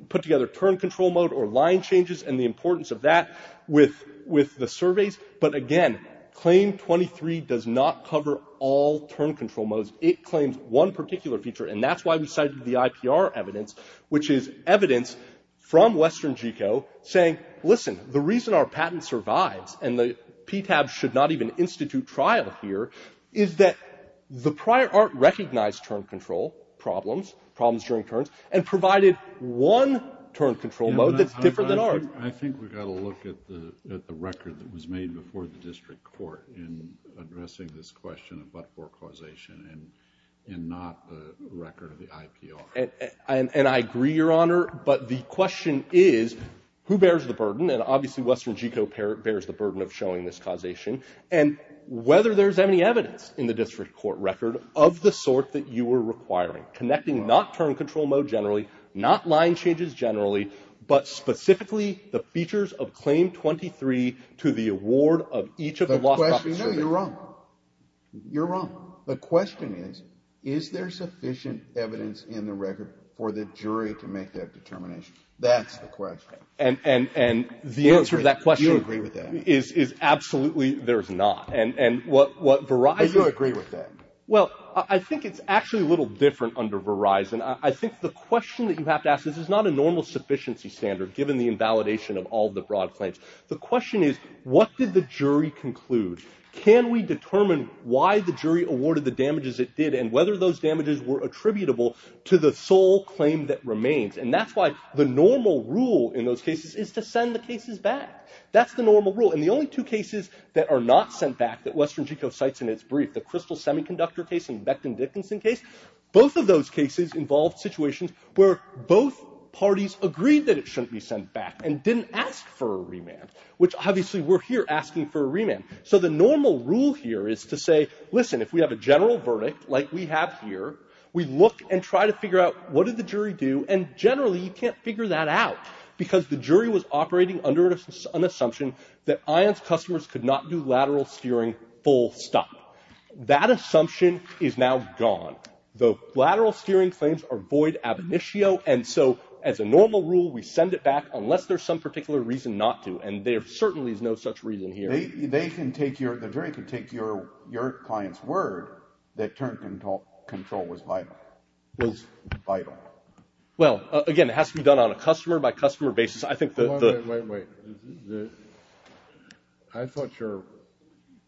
put together turn control mode or line changes and the importance of that with the surveys, but again, Claim 23 does not cover all turn control modes. It claims one particular feature, and that's why we cited the IPR evidence, which is evidence from Western GECO saying, listen, the reason our patent survives and the PTAB should not even institute trial here is that the prior art recognized turn control problems, problems during turns, and provided one turn control mode that's different than ours. I think we've got to look at the record that was made before the district court in addressing this question of but-for causation and not the record of the IPR. And I agree, Your Honor, but the question is who bears the burden, and obviously Western GECO bears the burden of showing this causation, and whether there's any evidence in the district court record of the sort that you are requiring, connecting not turn control mode generally, not line changes generally, but specifically the features of Claim 23 to the award of each of the lost... The question... No, you're wrong. You're wrong. The question is, is there sufficient evidence in the record for the jury to make that determination? That's the question. And the answer to that question... Do you agree with that? ...is absolutely there's not, and what Verizon... Do you agree with that? Well, I think it's actually a little different under Verizon. I think the question that you have to ask... This is not a normal sufficiency standard given the invalidation of all the broad claims. The question is, what did the jury conclude? Can we determine why the jury awarded the damages it did and whether those damages were attributable to the sole claim that remains? And that's why the normal rule in those cases is to send the cases back. That's the normal rule. And the only two cases that are not sent back that Western GECO cites in its brief, the Crystal Semiconductor case and the Beckton-Dickinson case, both of those cases involved situations where both parties agreed that it shouldn't be sent back and didn't ask for a remand, which obviously we're here asking for a remand. So the normal rule here is to say, listen, if we have a general verdict like we have here, we look and try to figure out what did the jury do, and generally you can't figure that out because the jury was operating under an assumption that ION's customers could not do lateral steering full stop. That assumption is now gone. The lateral steering claims are void ab initio, and so as a normal rule, we send it back unless there's some particular reason not to, and there certainly is no such reason here. The jury can take your client's word that turn control was vital. Well, again, it has to be done on a customer-by-customer basis. I think the... Wait, wait, wait. I thought your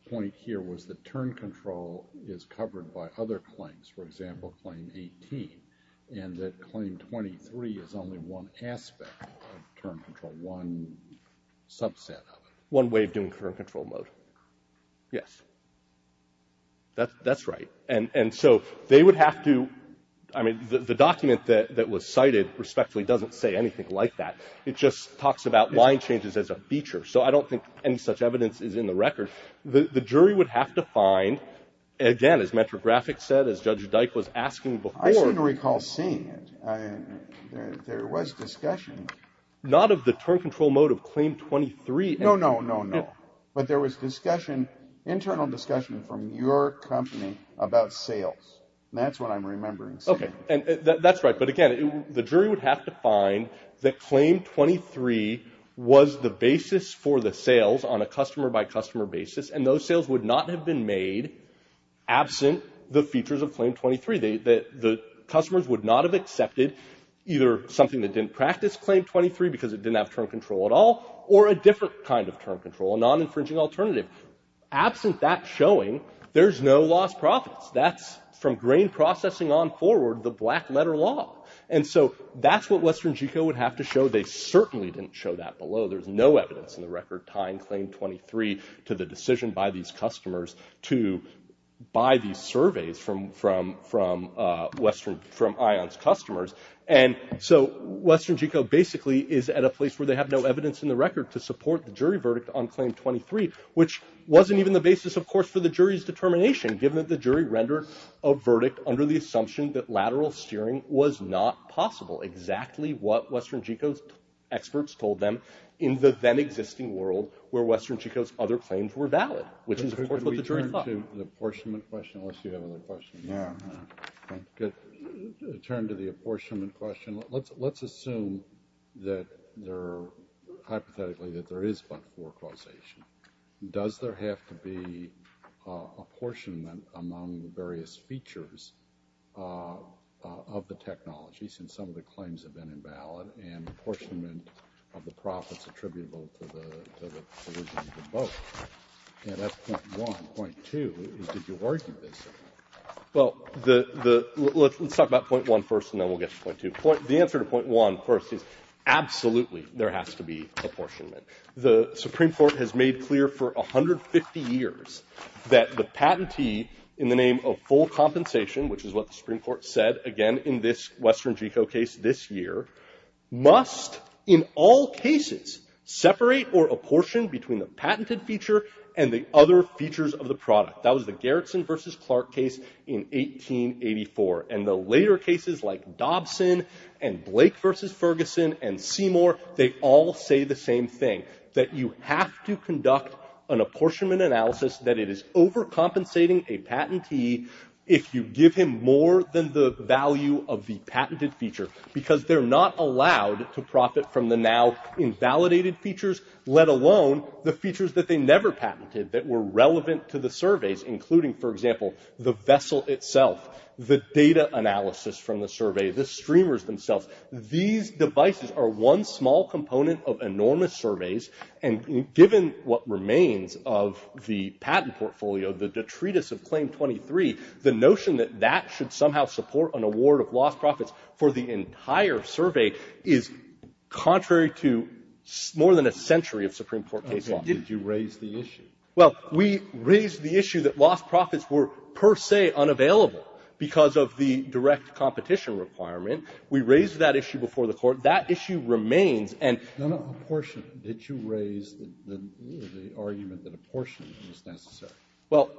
point here was that turn control is covered by other claims, for example, Claim 18, and that Claim 23 is only one aspect of turn control, one subset of it. One way of doing turn control mode. Yes. That's right. And so they would have to... I mean, the document that was cited, respectfully, doesn't say anything like that. It just talks about line changes as a feature. So I don't think any such evidence is in the record. The jury would have to find... Again, as Metro Graphics said, as Judge Dyke was asking before... I seem to recall seeing it. There was discussion. Not of the turn control mode of Claim 23. No, no, no, no. But there was discussion, internal discussion, from your company about sales. That's what I'm remembering seeing. That's right, but again, the jury would have to find that Claim 23 was the basis for the sales on a customer-by-customer basis, and those sales would not have been made absent the features of Claim 23. The customers would not have accepted either something that didn't practice Claim 23 because it didn't have turn control at all or a different kind of turn control, a non-infringing alternative. Absent that showing, there's no lost profits. That's, from grain processing on forward, the black-letter law. And so that's what Western Geco would have to show. They certainly didn't show that below. There's no evidence in the record tying Claim 23 to the decision by these customers to buy these surveys from ION's customers. And so Western Geco basically is at a place where they have no evidence in the record to support the jury verdict on Claim 23, which wasn't even the basis, of course, for the jury's determination, given that the jury rendered a verdict under the assumption that lateral steering was not possible, exactly what Western Geco's experts told them in the then-existing world where Western Geco's other claims were valid, which is, of course, what the jury thought. Can we turn to the apportionment question, unless you have another question? Turn to the apportionment question. Let's assume that there are, hypothetically, that there is but four causation. Does there have to be apportionment among the various features of the technology, since some of the claims have been invalid, and apportionment of the profits attributable to the solution of the vote? And that's point one. Point two is, did you argue this? Well, let's talk about point one first, and then we'll get to point two. The answer to point one first is, absolutely, there has to be apportionment. The Supreme Court has made clear for 150 years that the patentee, in the name of full compensation, which is what the Supreme Court said, again, in this Western Geco case this year, must, in all cases, separate or apportion between the patented feature and the other features of the product. That was the Garrison v. Clark case in 1884. And the later cases, like Dobson and Blake v. Ferguson and Seymour, they all say the same thing, that you have to conduct an apportionment analysis that it is overcompensating a patentee if you give him more than the value of the patented feature, because they're not allowed to profit from the now-invalidated features, let alone the features that they never patented that were relevant to the surveys, including, for example, the vessel itself, the data analysis from the survey, the streamers themselves. These devices are one small component of enormous surveys, and given what remains of the patent portfolio, the detritus of Claim 23, the notion that that should somehow support an award of lost profits for the entire survey is contrary to more than a century of Supreme Court case law. Roberts. Did you raise the issue? Well, we raised the issue that lost profits were per se unavailable because of the direct competition requirement. We raised that issue before the Court. That issue remains, and the apportionment that you raised, the argument that apportionment is necessary. Well,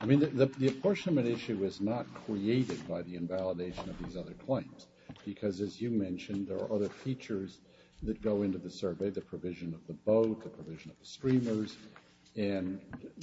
I mean, the apportionment issue is not created by the invalidation of these other claims, because as you mentioned, there are other features that go into the survey, the provision of the boat, the provision of the streamers, and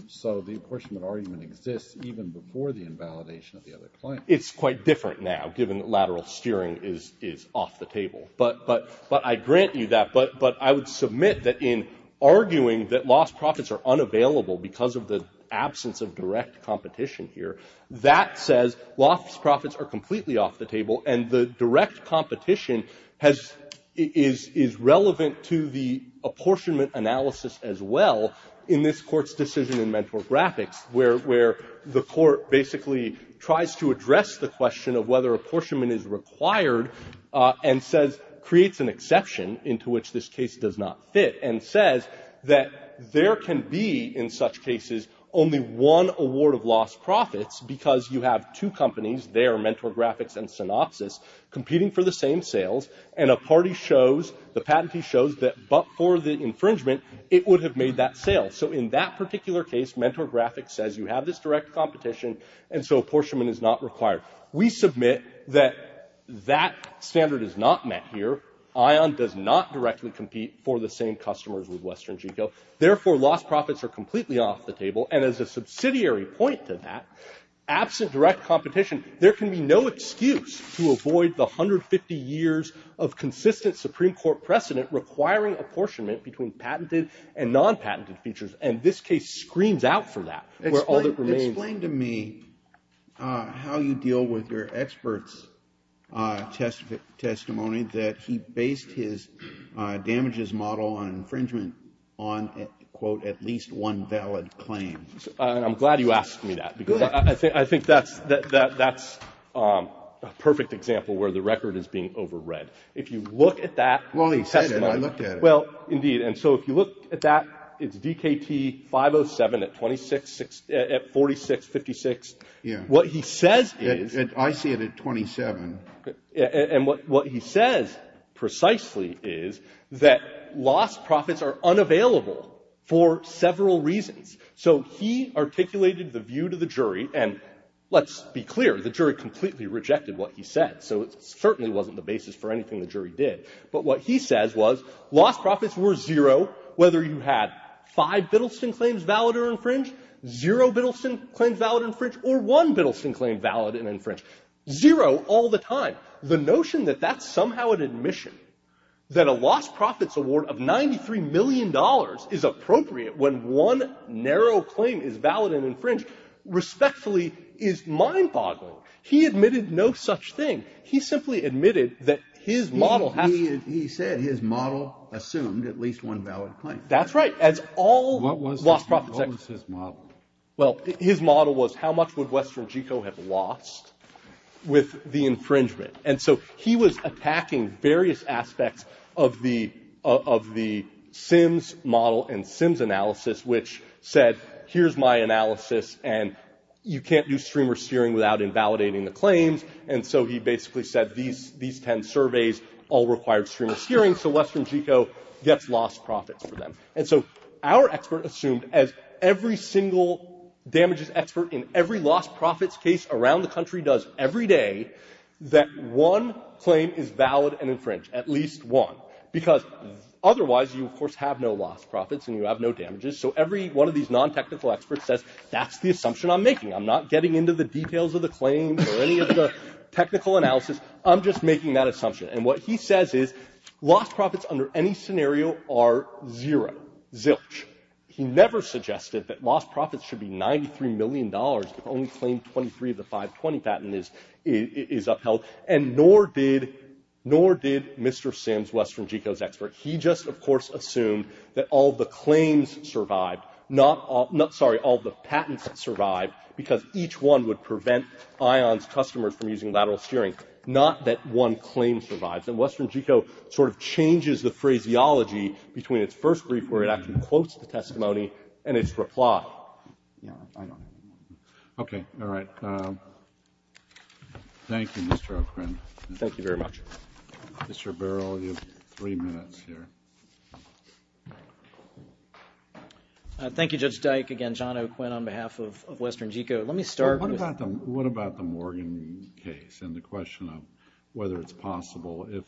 so the apportionment argument exists even before the invalidation of the other claims. It's quite different now, given that lateral steering is off the table. But I grant you that, but I would submit that in arguing that lost profits are unavailable because of the absence of direct competition here, that says lost profits are completely off the table, and the direct competition is relevant to the apportionment analysis as well in this Court's decision in Mentor Graphics, where the Court basically tries to address the question of whether apportionment is required and creates an exception into which this case does not fit and says that there can be, in such cases, only one award of lost profits because you have two companies, there, Mentor Graphics and Synopsys, competing for the same sales, and a party shows, the patentee shows, that but for the infringement, it would have made that sale. So in that particular case, Mentor Graphics says you have this direct competition, and so apportionment is not required. We submit that that standard is not met here. ION does not directly compete for the same customers with Western Geco. Therefore, lost profits are completely off the table, and as a subsidiary point to that, absent direct competition, there can be no excuse to avoid the 150 years of consistent Supreme Court precedent requiring apportionment between patented and non-patented features, and this case screams out for that. Explain to me how you deal with your expert's testimony that he based his damages model on infringement on, quote, at least one valid claim. I'm glad you asked me that because I think that's a perfect example where the record is being overread. If you look at that testimony... Well, he said it, and I looked at it. Well, indeed, and so if you look at that, it's DKT 507 at 4656. What he says is... I see it at 27. And what he says precisely is that lost profits are unavailable for several reasons. So he articulated the view to the jury, and let's be clear, the jury completely rejected what he said, so it certainly wasn't the basis for anything the jury did. But what he says was lost profits were zero whether you had five Biddleston claims valid or infringed, zero Biddleston claims valid and infringed, or one Biddleston claim valid and infringed. Zero all the time. The notion that that's somehow an admission, that a lost profits award of $93 million is appropriate when one narrow claim is valid and infringed, respectfully, is mind-boggling. He admitted no such thing. He simply admitted that his model... He said his model assumed at least one valid claim. That's right. What was his model? Well, his model was how much would Western Geco have lost with the infringement. And so he was attacking various aspects of the SIMS model and SIMS analysis, which said, here's my analysis, and you can't do streamer steering And so he basically said these ten surveys all required streamer steering, so Western Geco gets lost profits for them. And so our expert assumed, as every single damages expert in every lost profits case around the country does every day, that one claim is valid and infringed, at least one. Because otherwise, you, of course, have no lost profits and you have no damages. So every one of these non-technical experts says, that's the assumption I'm making. or any of the technical analysis. I'm just making that assumption. And what he says is, lost profits under any scenario are zero. Zilch. He never suggested that lost profits should be $93 million if only claim 23 of the 520 patent is upheld. And nor did Mr. SIMS, Western Geco's expert. He just, of course, assumed that all the claims survived. Sorry, all the patents survived. Because each one would prevent ION's customers from using lateral steering. Not that one claim survives. And Western Geco sort of changes the phraseology between its first brief where it actually quotes the testimony and its reply. Yeah, I know. Okay, all right. Thank you, Mr. O'Quinn. Thank you very much. Mr. Burrell, you have three minutes here. Thank you, Judge Dyke. Again, John O'Quinn on behalf of Western Geco. Let me start with... the question of whether it's possible if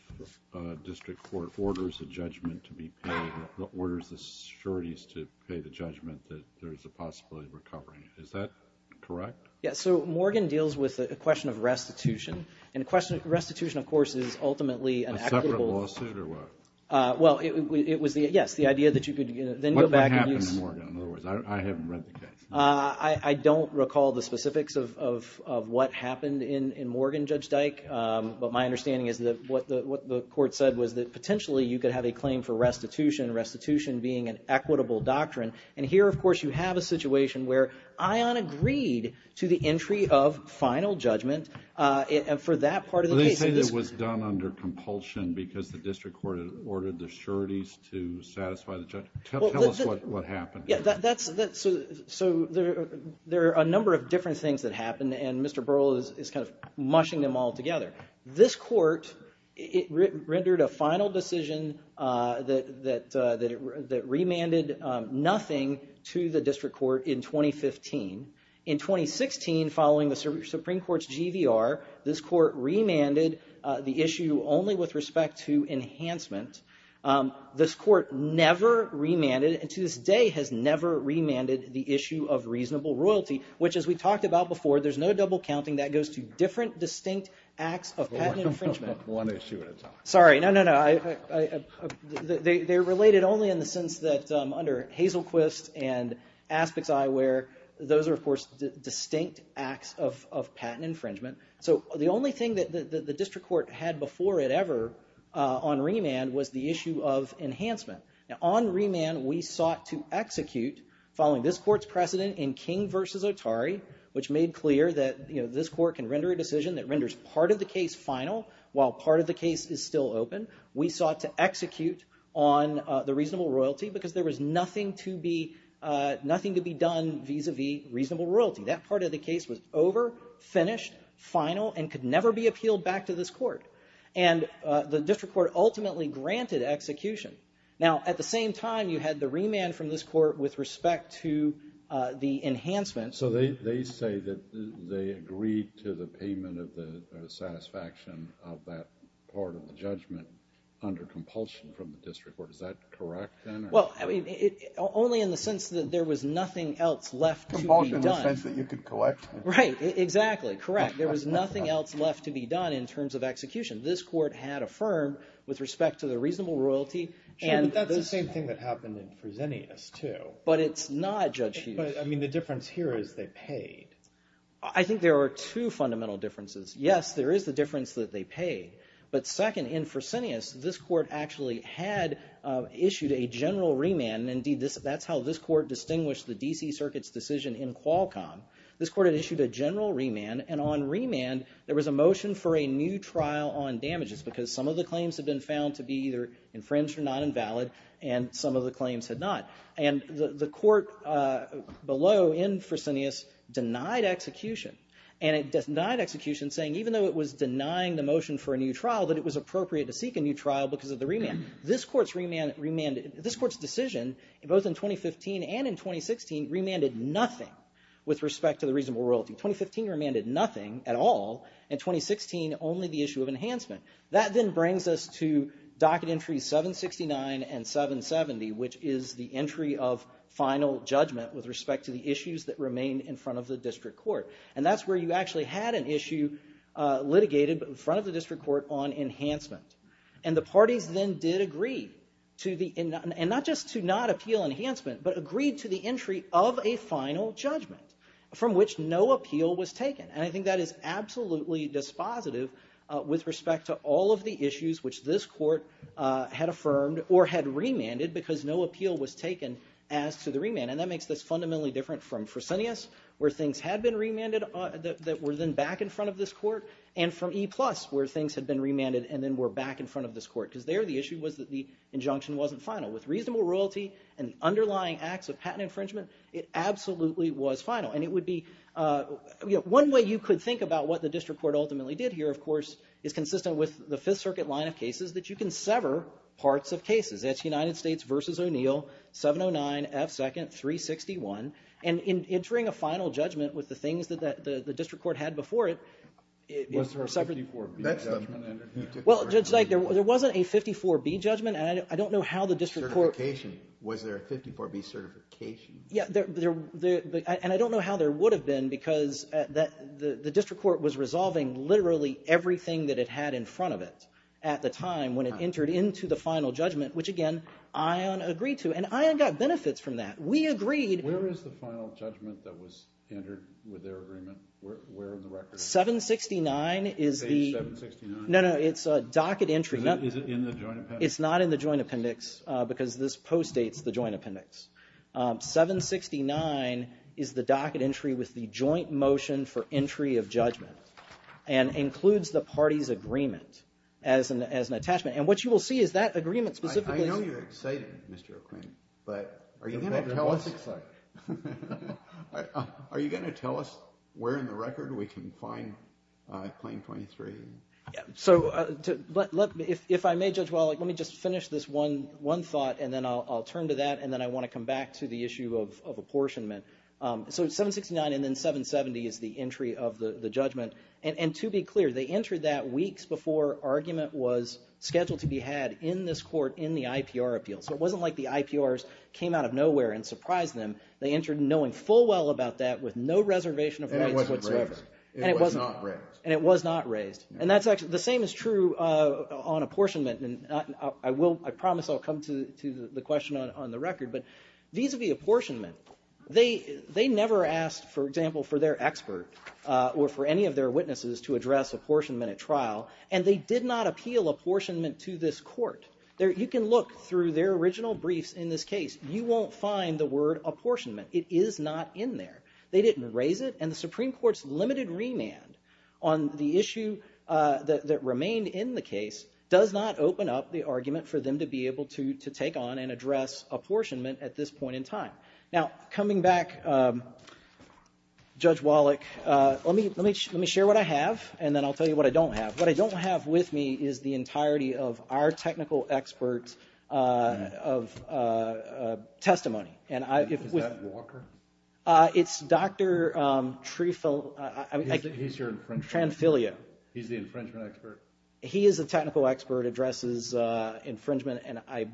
a district court orders a judgment to be paid, orders the securities to pay the judgment, that there's a possibility of recovering it. Is that correct? Yeah, so Morgan deals with a question of restitution. And restitution, of course, is ultimately an equitable... A separate lawsuit, or what? Well, it was, yes, the idea that you could then go back and use... What happened in Morgan? I haven't read the case. I don't recall the specifics of what happened in Morgan, Judge Dyke. But my understanding is that what the court said was that potentially you could have a claim for restitution, restitution being an equitable doctrine. And here, of course, you have a situation where Ion agreed to the entry of final judgment for that part of the case. They say it was done under compulsion because the district court had ordered the securities to satisfy the judgment. Tell us what happened. Yeah, that's... There are a number of different things that happened, and Mr. Burrell is kind of mushing them all together. This court rendered a final decision that remanded nothing to the district court in 2015. In 2016, following the Supreme Court's GVR, this court remanded the issue only with respect to enhancement. This court never remanded, and to this day, has never remanded the issue of reasonable royalty, which, as we talked about before, there's no double counting. That goes to different, distinct acts of patent infringement. Sorry, no, no, no. They're related only in the sense that under Hazelquist and Aspic's eyewear, those are, of course, distinct acts of patent infringement. So the only thing that the district court had before it ever on remand was the issue of what it sought to execute following this court's precedent in King v. Otari, which made clear that this court can render a decision that renders part of the case final while part of the case is still open. We sought to execute on the reasonable royalty because there was nothing to be done vis-a-vis reasonable royalty. That part of the case was over, finished, final, and could never be appealed back to this court. And the district court ultimately granted execution. Now, at the same time, you had the remand from this court with respect to the enhancement. So they say that they agreed to the payment of the satisfaction of that part of the judgment under compulsion from the district court. Is that correct? Well, only in the sense that there was nothing else left to be done. Compulsion in the sense that you could collect Right, exactly, correct. There was nothing else left to be done in terms of execution. This court had affirmed with respect to the reasonable royalty. Sure, but that's the same thing that happened in Fresenius too. But it's not, Judge Hughes. But, I mean, the difference here is they paid. I think there are two fundamental differences. Yes, there is the difference that they paid. But second, in Fresenius, this court actually had issued a general remand. Indeed, that's how this court distinguished the D.C. Circuit's decision in Qualcomm. This court had issued a general remand, and on remand there was a motion for a new trial. Some of the claims had been found to be either infringed or not invalid, and some of the claims had not. And the court below in Fresenius denied execution. And it denied execution saying even though it was denying the motion for a new trial, that it was appropriate to seek a new trial because of the remand. This court's remand, this court's decision both in 2015 and in 2016 remanded nothing with respect to the reasonable royalty. 2015 remanded nothing at all. In 2016 only the issue of enhancement. That then brings us to Docket Entries 769 and 770 which is the entry of final judgment with respect to the issues that remain in front of the district court. And that's where you actually had an issue litigated in front of the district court on enhancement. And the parties then did agree and not just to not appeal enhancement, but agreed to the entry of a final judgment from which no appeal was taken. And I think that is absolutely dispositive with respect to all of the issues which this court had affirmed or had remanded because no appeal was taken as to the remand. And that makes this fundamentally different from Fresenius where things had been remanded that were then back in front of this court and from E-Plus where things had been remanded and then were back in front of this court because there the issue was that the injunction wasn't final. With reasonable royalty and underlying acts of patent infringement it absolutely was final. And it would be one way you could think about what the district court ultimately did here, of course is consistent with the Fifth Circuit line of cases that you can sever parts of cases. That's United States v. O'Neill 709 F. 2nd. 361. And in entering a final judgment with the things that the district court had before it Was there a 54B judgment entered here? Well, Judge Dyke, there wasn't a 54B judgment and I don't know how the district court... Certification. Was there a 54B certification? Yeah. And I don't know how there would have been because the district court was resolving literally everything that it had in front of it at the time when it entered into the final judgment, which again, ION agreed to. And ION got benefits from that. We agreed... Where is the final judgment that was entered with their agreement? Where in the record? 769 is the... Page 769. No, no. It's a docket entry. because this postdates the Joint motion for entry of judgment and includes the party's agreement as an attachment. And what you will see is that agreement specifically... I know you're excited, Mr. O'Quinn, but... Are you going to tell us... Are you going to tell us where in the record we can find claim 23? So, if I may, Judge Wallach, let me just finish this one thought and then I'll turn to that and then I want to come back to the issue of apportionment. So 769 and then 770 is the entry of the judgment. And to be clear, they entered that weeks before argument was scheduled to be had in this court in the IPR appeal. So it wasn't like the IPRs came out of nowhere and surprised them. They entered knowing full well about that with no reservation of rights whatsoever. And it wasn't raised. And it was not raised. And that's actually... The same is true on apportionment. And I will... I promise I'll come to the question on the record. But vis-a-vis apportionment, they never asked, for example, for their expert or for any of their witnesses to address apportionment at trial. And they did not appeal apportionment to this court. You can look through their original briefs in this case. You won't find the word apportionment. It is not in there. They didn't raise it. And the Supreme Court's limited remand on the issue that remained in the case does not open up the argument for them to be able to address apportionment at this point in time. Now, coming back, Judge Wallach, let me share what I have and then I'll tell you what I don't have. What I don't have with me is the entirety of our technical expert's testimony. Is that Walker? It's Dr. Trefilio. He's your infringement expert? He's the infringement expert. He is a technical expert, addresses infringement. But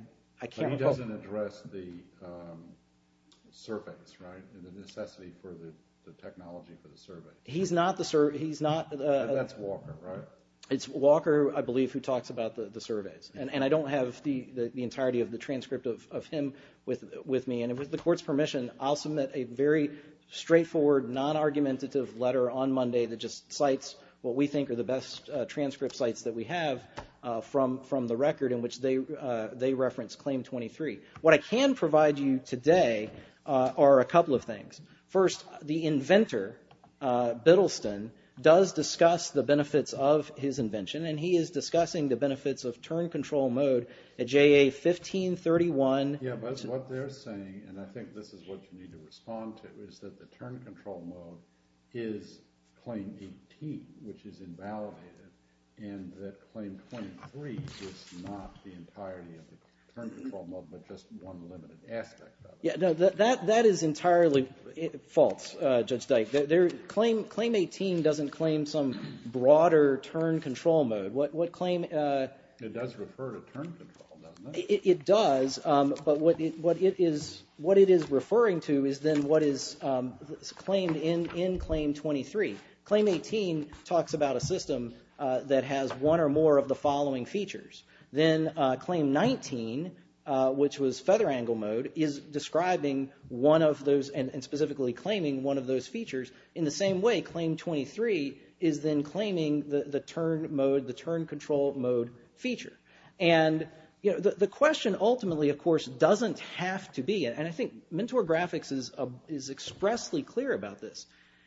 he doesn't address the surveys, right? The necessity for the technology for the surveys. That's Walker, right? It's Walker, I believe, who talks about the surveys. And I don't have the entirety of the transcript of him with me. And with the court's permission, I'll submit a very straightforward, non-argumentative letter on Monday that just cites what we think are the best transcript sites that we have from the record in which they reference Claim 23. What I can provide you today are a couple of things. First, the inventor, Biddleston, does discuss the benefits of his invention, and he is discussing the benefits of Turn Control Mode at JA 1531. Yeah, but what they're saying, and I think this is what you need to respond to, is that the Turn Control Mode is Claim 18, which is validated, and that Claim 23 is not the entirety of the Turn Control Mode but just one limited aspect of it. That is entirely false, Judge Dyke. Claim 18 doesn't claim some broader Turn Control Mode. What Claim It does refer to Turn Control, doesn't it? It does, but what it is referring to is then what is claimed in Claim 23. Claim 18 talks about a system that has one or more of the following features. Then Claim 19, which was Feather Angle Mode, is describing one of those and specifically claiming one of those features in the same way Claim 23 is then claiming the Turn Control Mode feature. The question ultimately, of course, doesn't have to be, and I think Mentor Graphics is expressly clear about this,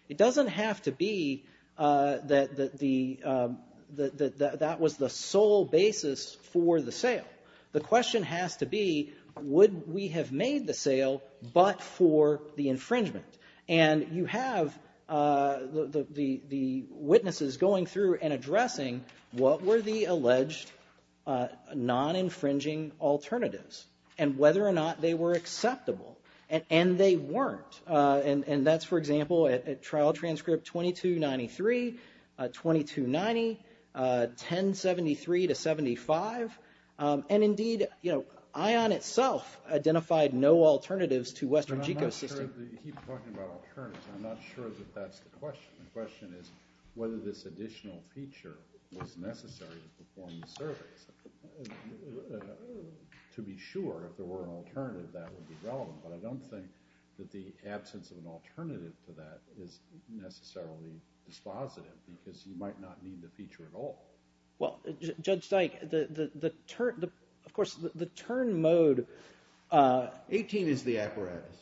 it doesn't have to be that that was the sole basis for the sale. The question has to be would we have made the sale but for the infringement? And you have the witnesses going through and addressing what were the alleged non-infringing alternatives and whether or not they were acceptable. And they weren't. And that's, for example, Trial Transcript 2293, 2290, 1073 to 75, and indeed ION itself identified no alternatives to Western GeoSystem. I'm not sure that that's the question. The question is whether this additional feature was necessary to perform the service. To be sure if there were an alternative, that would be relevant. But I don't think that the absence of an alternative to that is necessarily dispositive because you might not need the feature at all. Well, Judge Dyke, the turn, of course, the turn mode... 18 is the apparatus.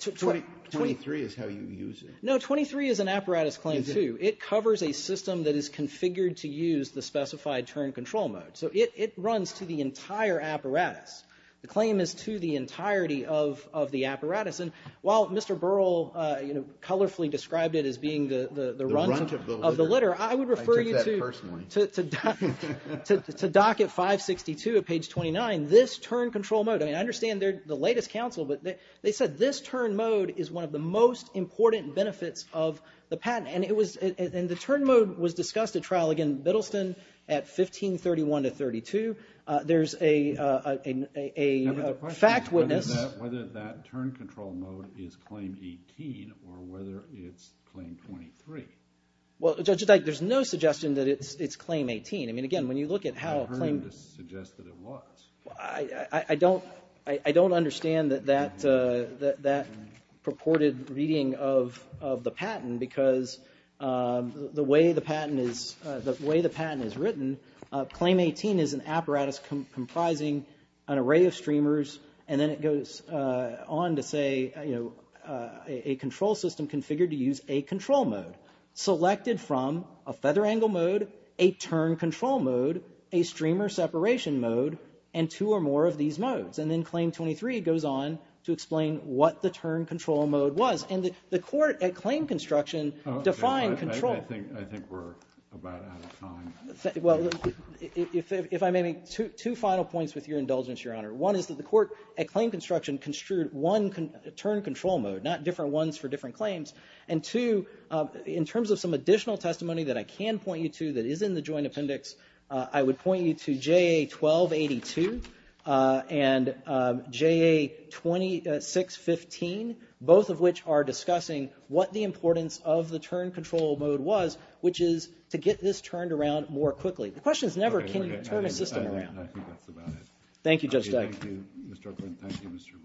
23 is how you use it. No, 23 is an apparatus claim too. It covers a system that is configured to use the specified turn control mode. So it runs to the entire apparatus. The claim is to the entirety of the apparatus. And while Mr. Burrell colorfully described it as being the runt of the litter, I would refer you to doc at 562 at page 29. This turn control mode, I mean, I understand they're the latest counsel, but they said this turn mode is one of the most important benefits of the patent. And the turn mode was discussed at trial again, Biddleston at 1531-32. There's a fact witness... Whether that turn control mode is Claim 18 or whether it's Claim 23. Well, Judge Dyke, there's no suggestion that it's Claim 18. I mean, again, when you look at how... I've heard it suggested it was. I don't understand that purported reading of the patent because the way the patent is written, Claim 18 is an apparatus comprising an array of streamers, and then it goes on to say a control system configured to use a control mode. Selected from a feather angle mode, a turn control mode, a streamer separation mode, and two or more of these modes. And then Claim 23 goes on to explain what the turn control mode was. And the court at claim construction defined control. I think we're about out of time. Well, if I may make two final points with your indulgence, Your Honor. One is that the court at claim construction construed one turn control mode, not different ones for different claims. And two, in terms of some additional testimony that I can point you to that is in the Joint Appendix, I would point you to JA-1282 and JA-2615, both of which are examples of the turn control mode was, which is to get this turned around more quickly. The question is never can you turn a system around. Thank you, Judge Degg. Thank you, Mr. O'Quinn. Thank you, Mr. Bernal. Thank you, Your Honor.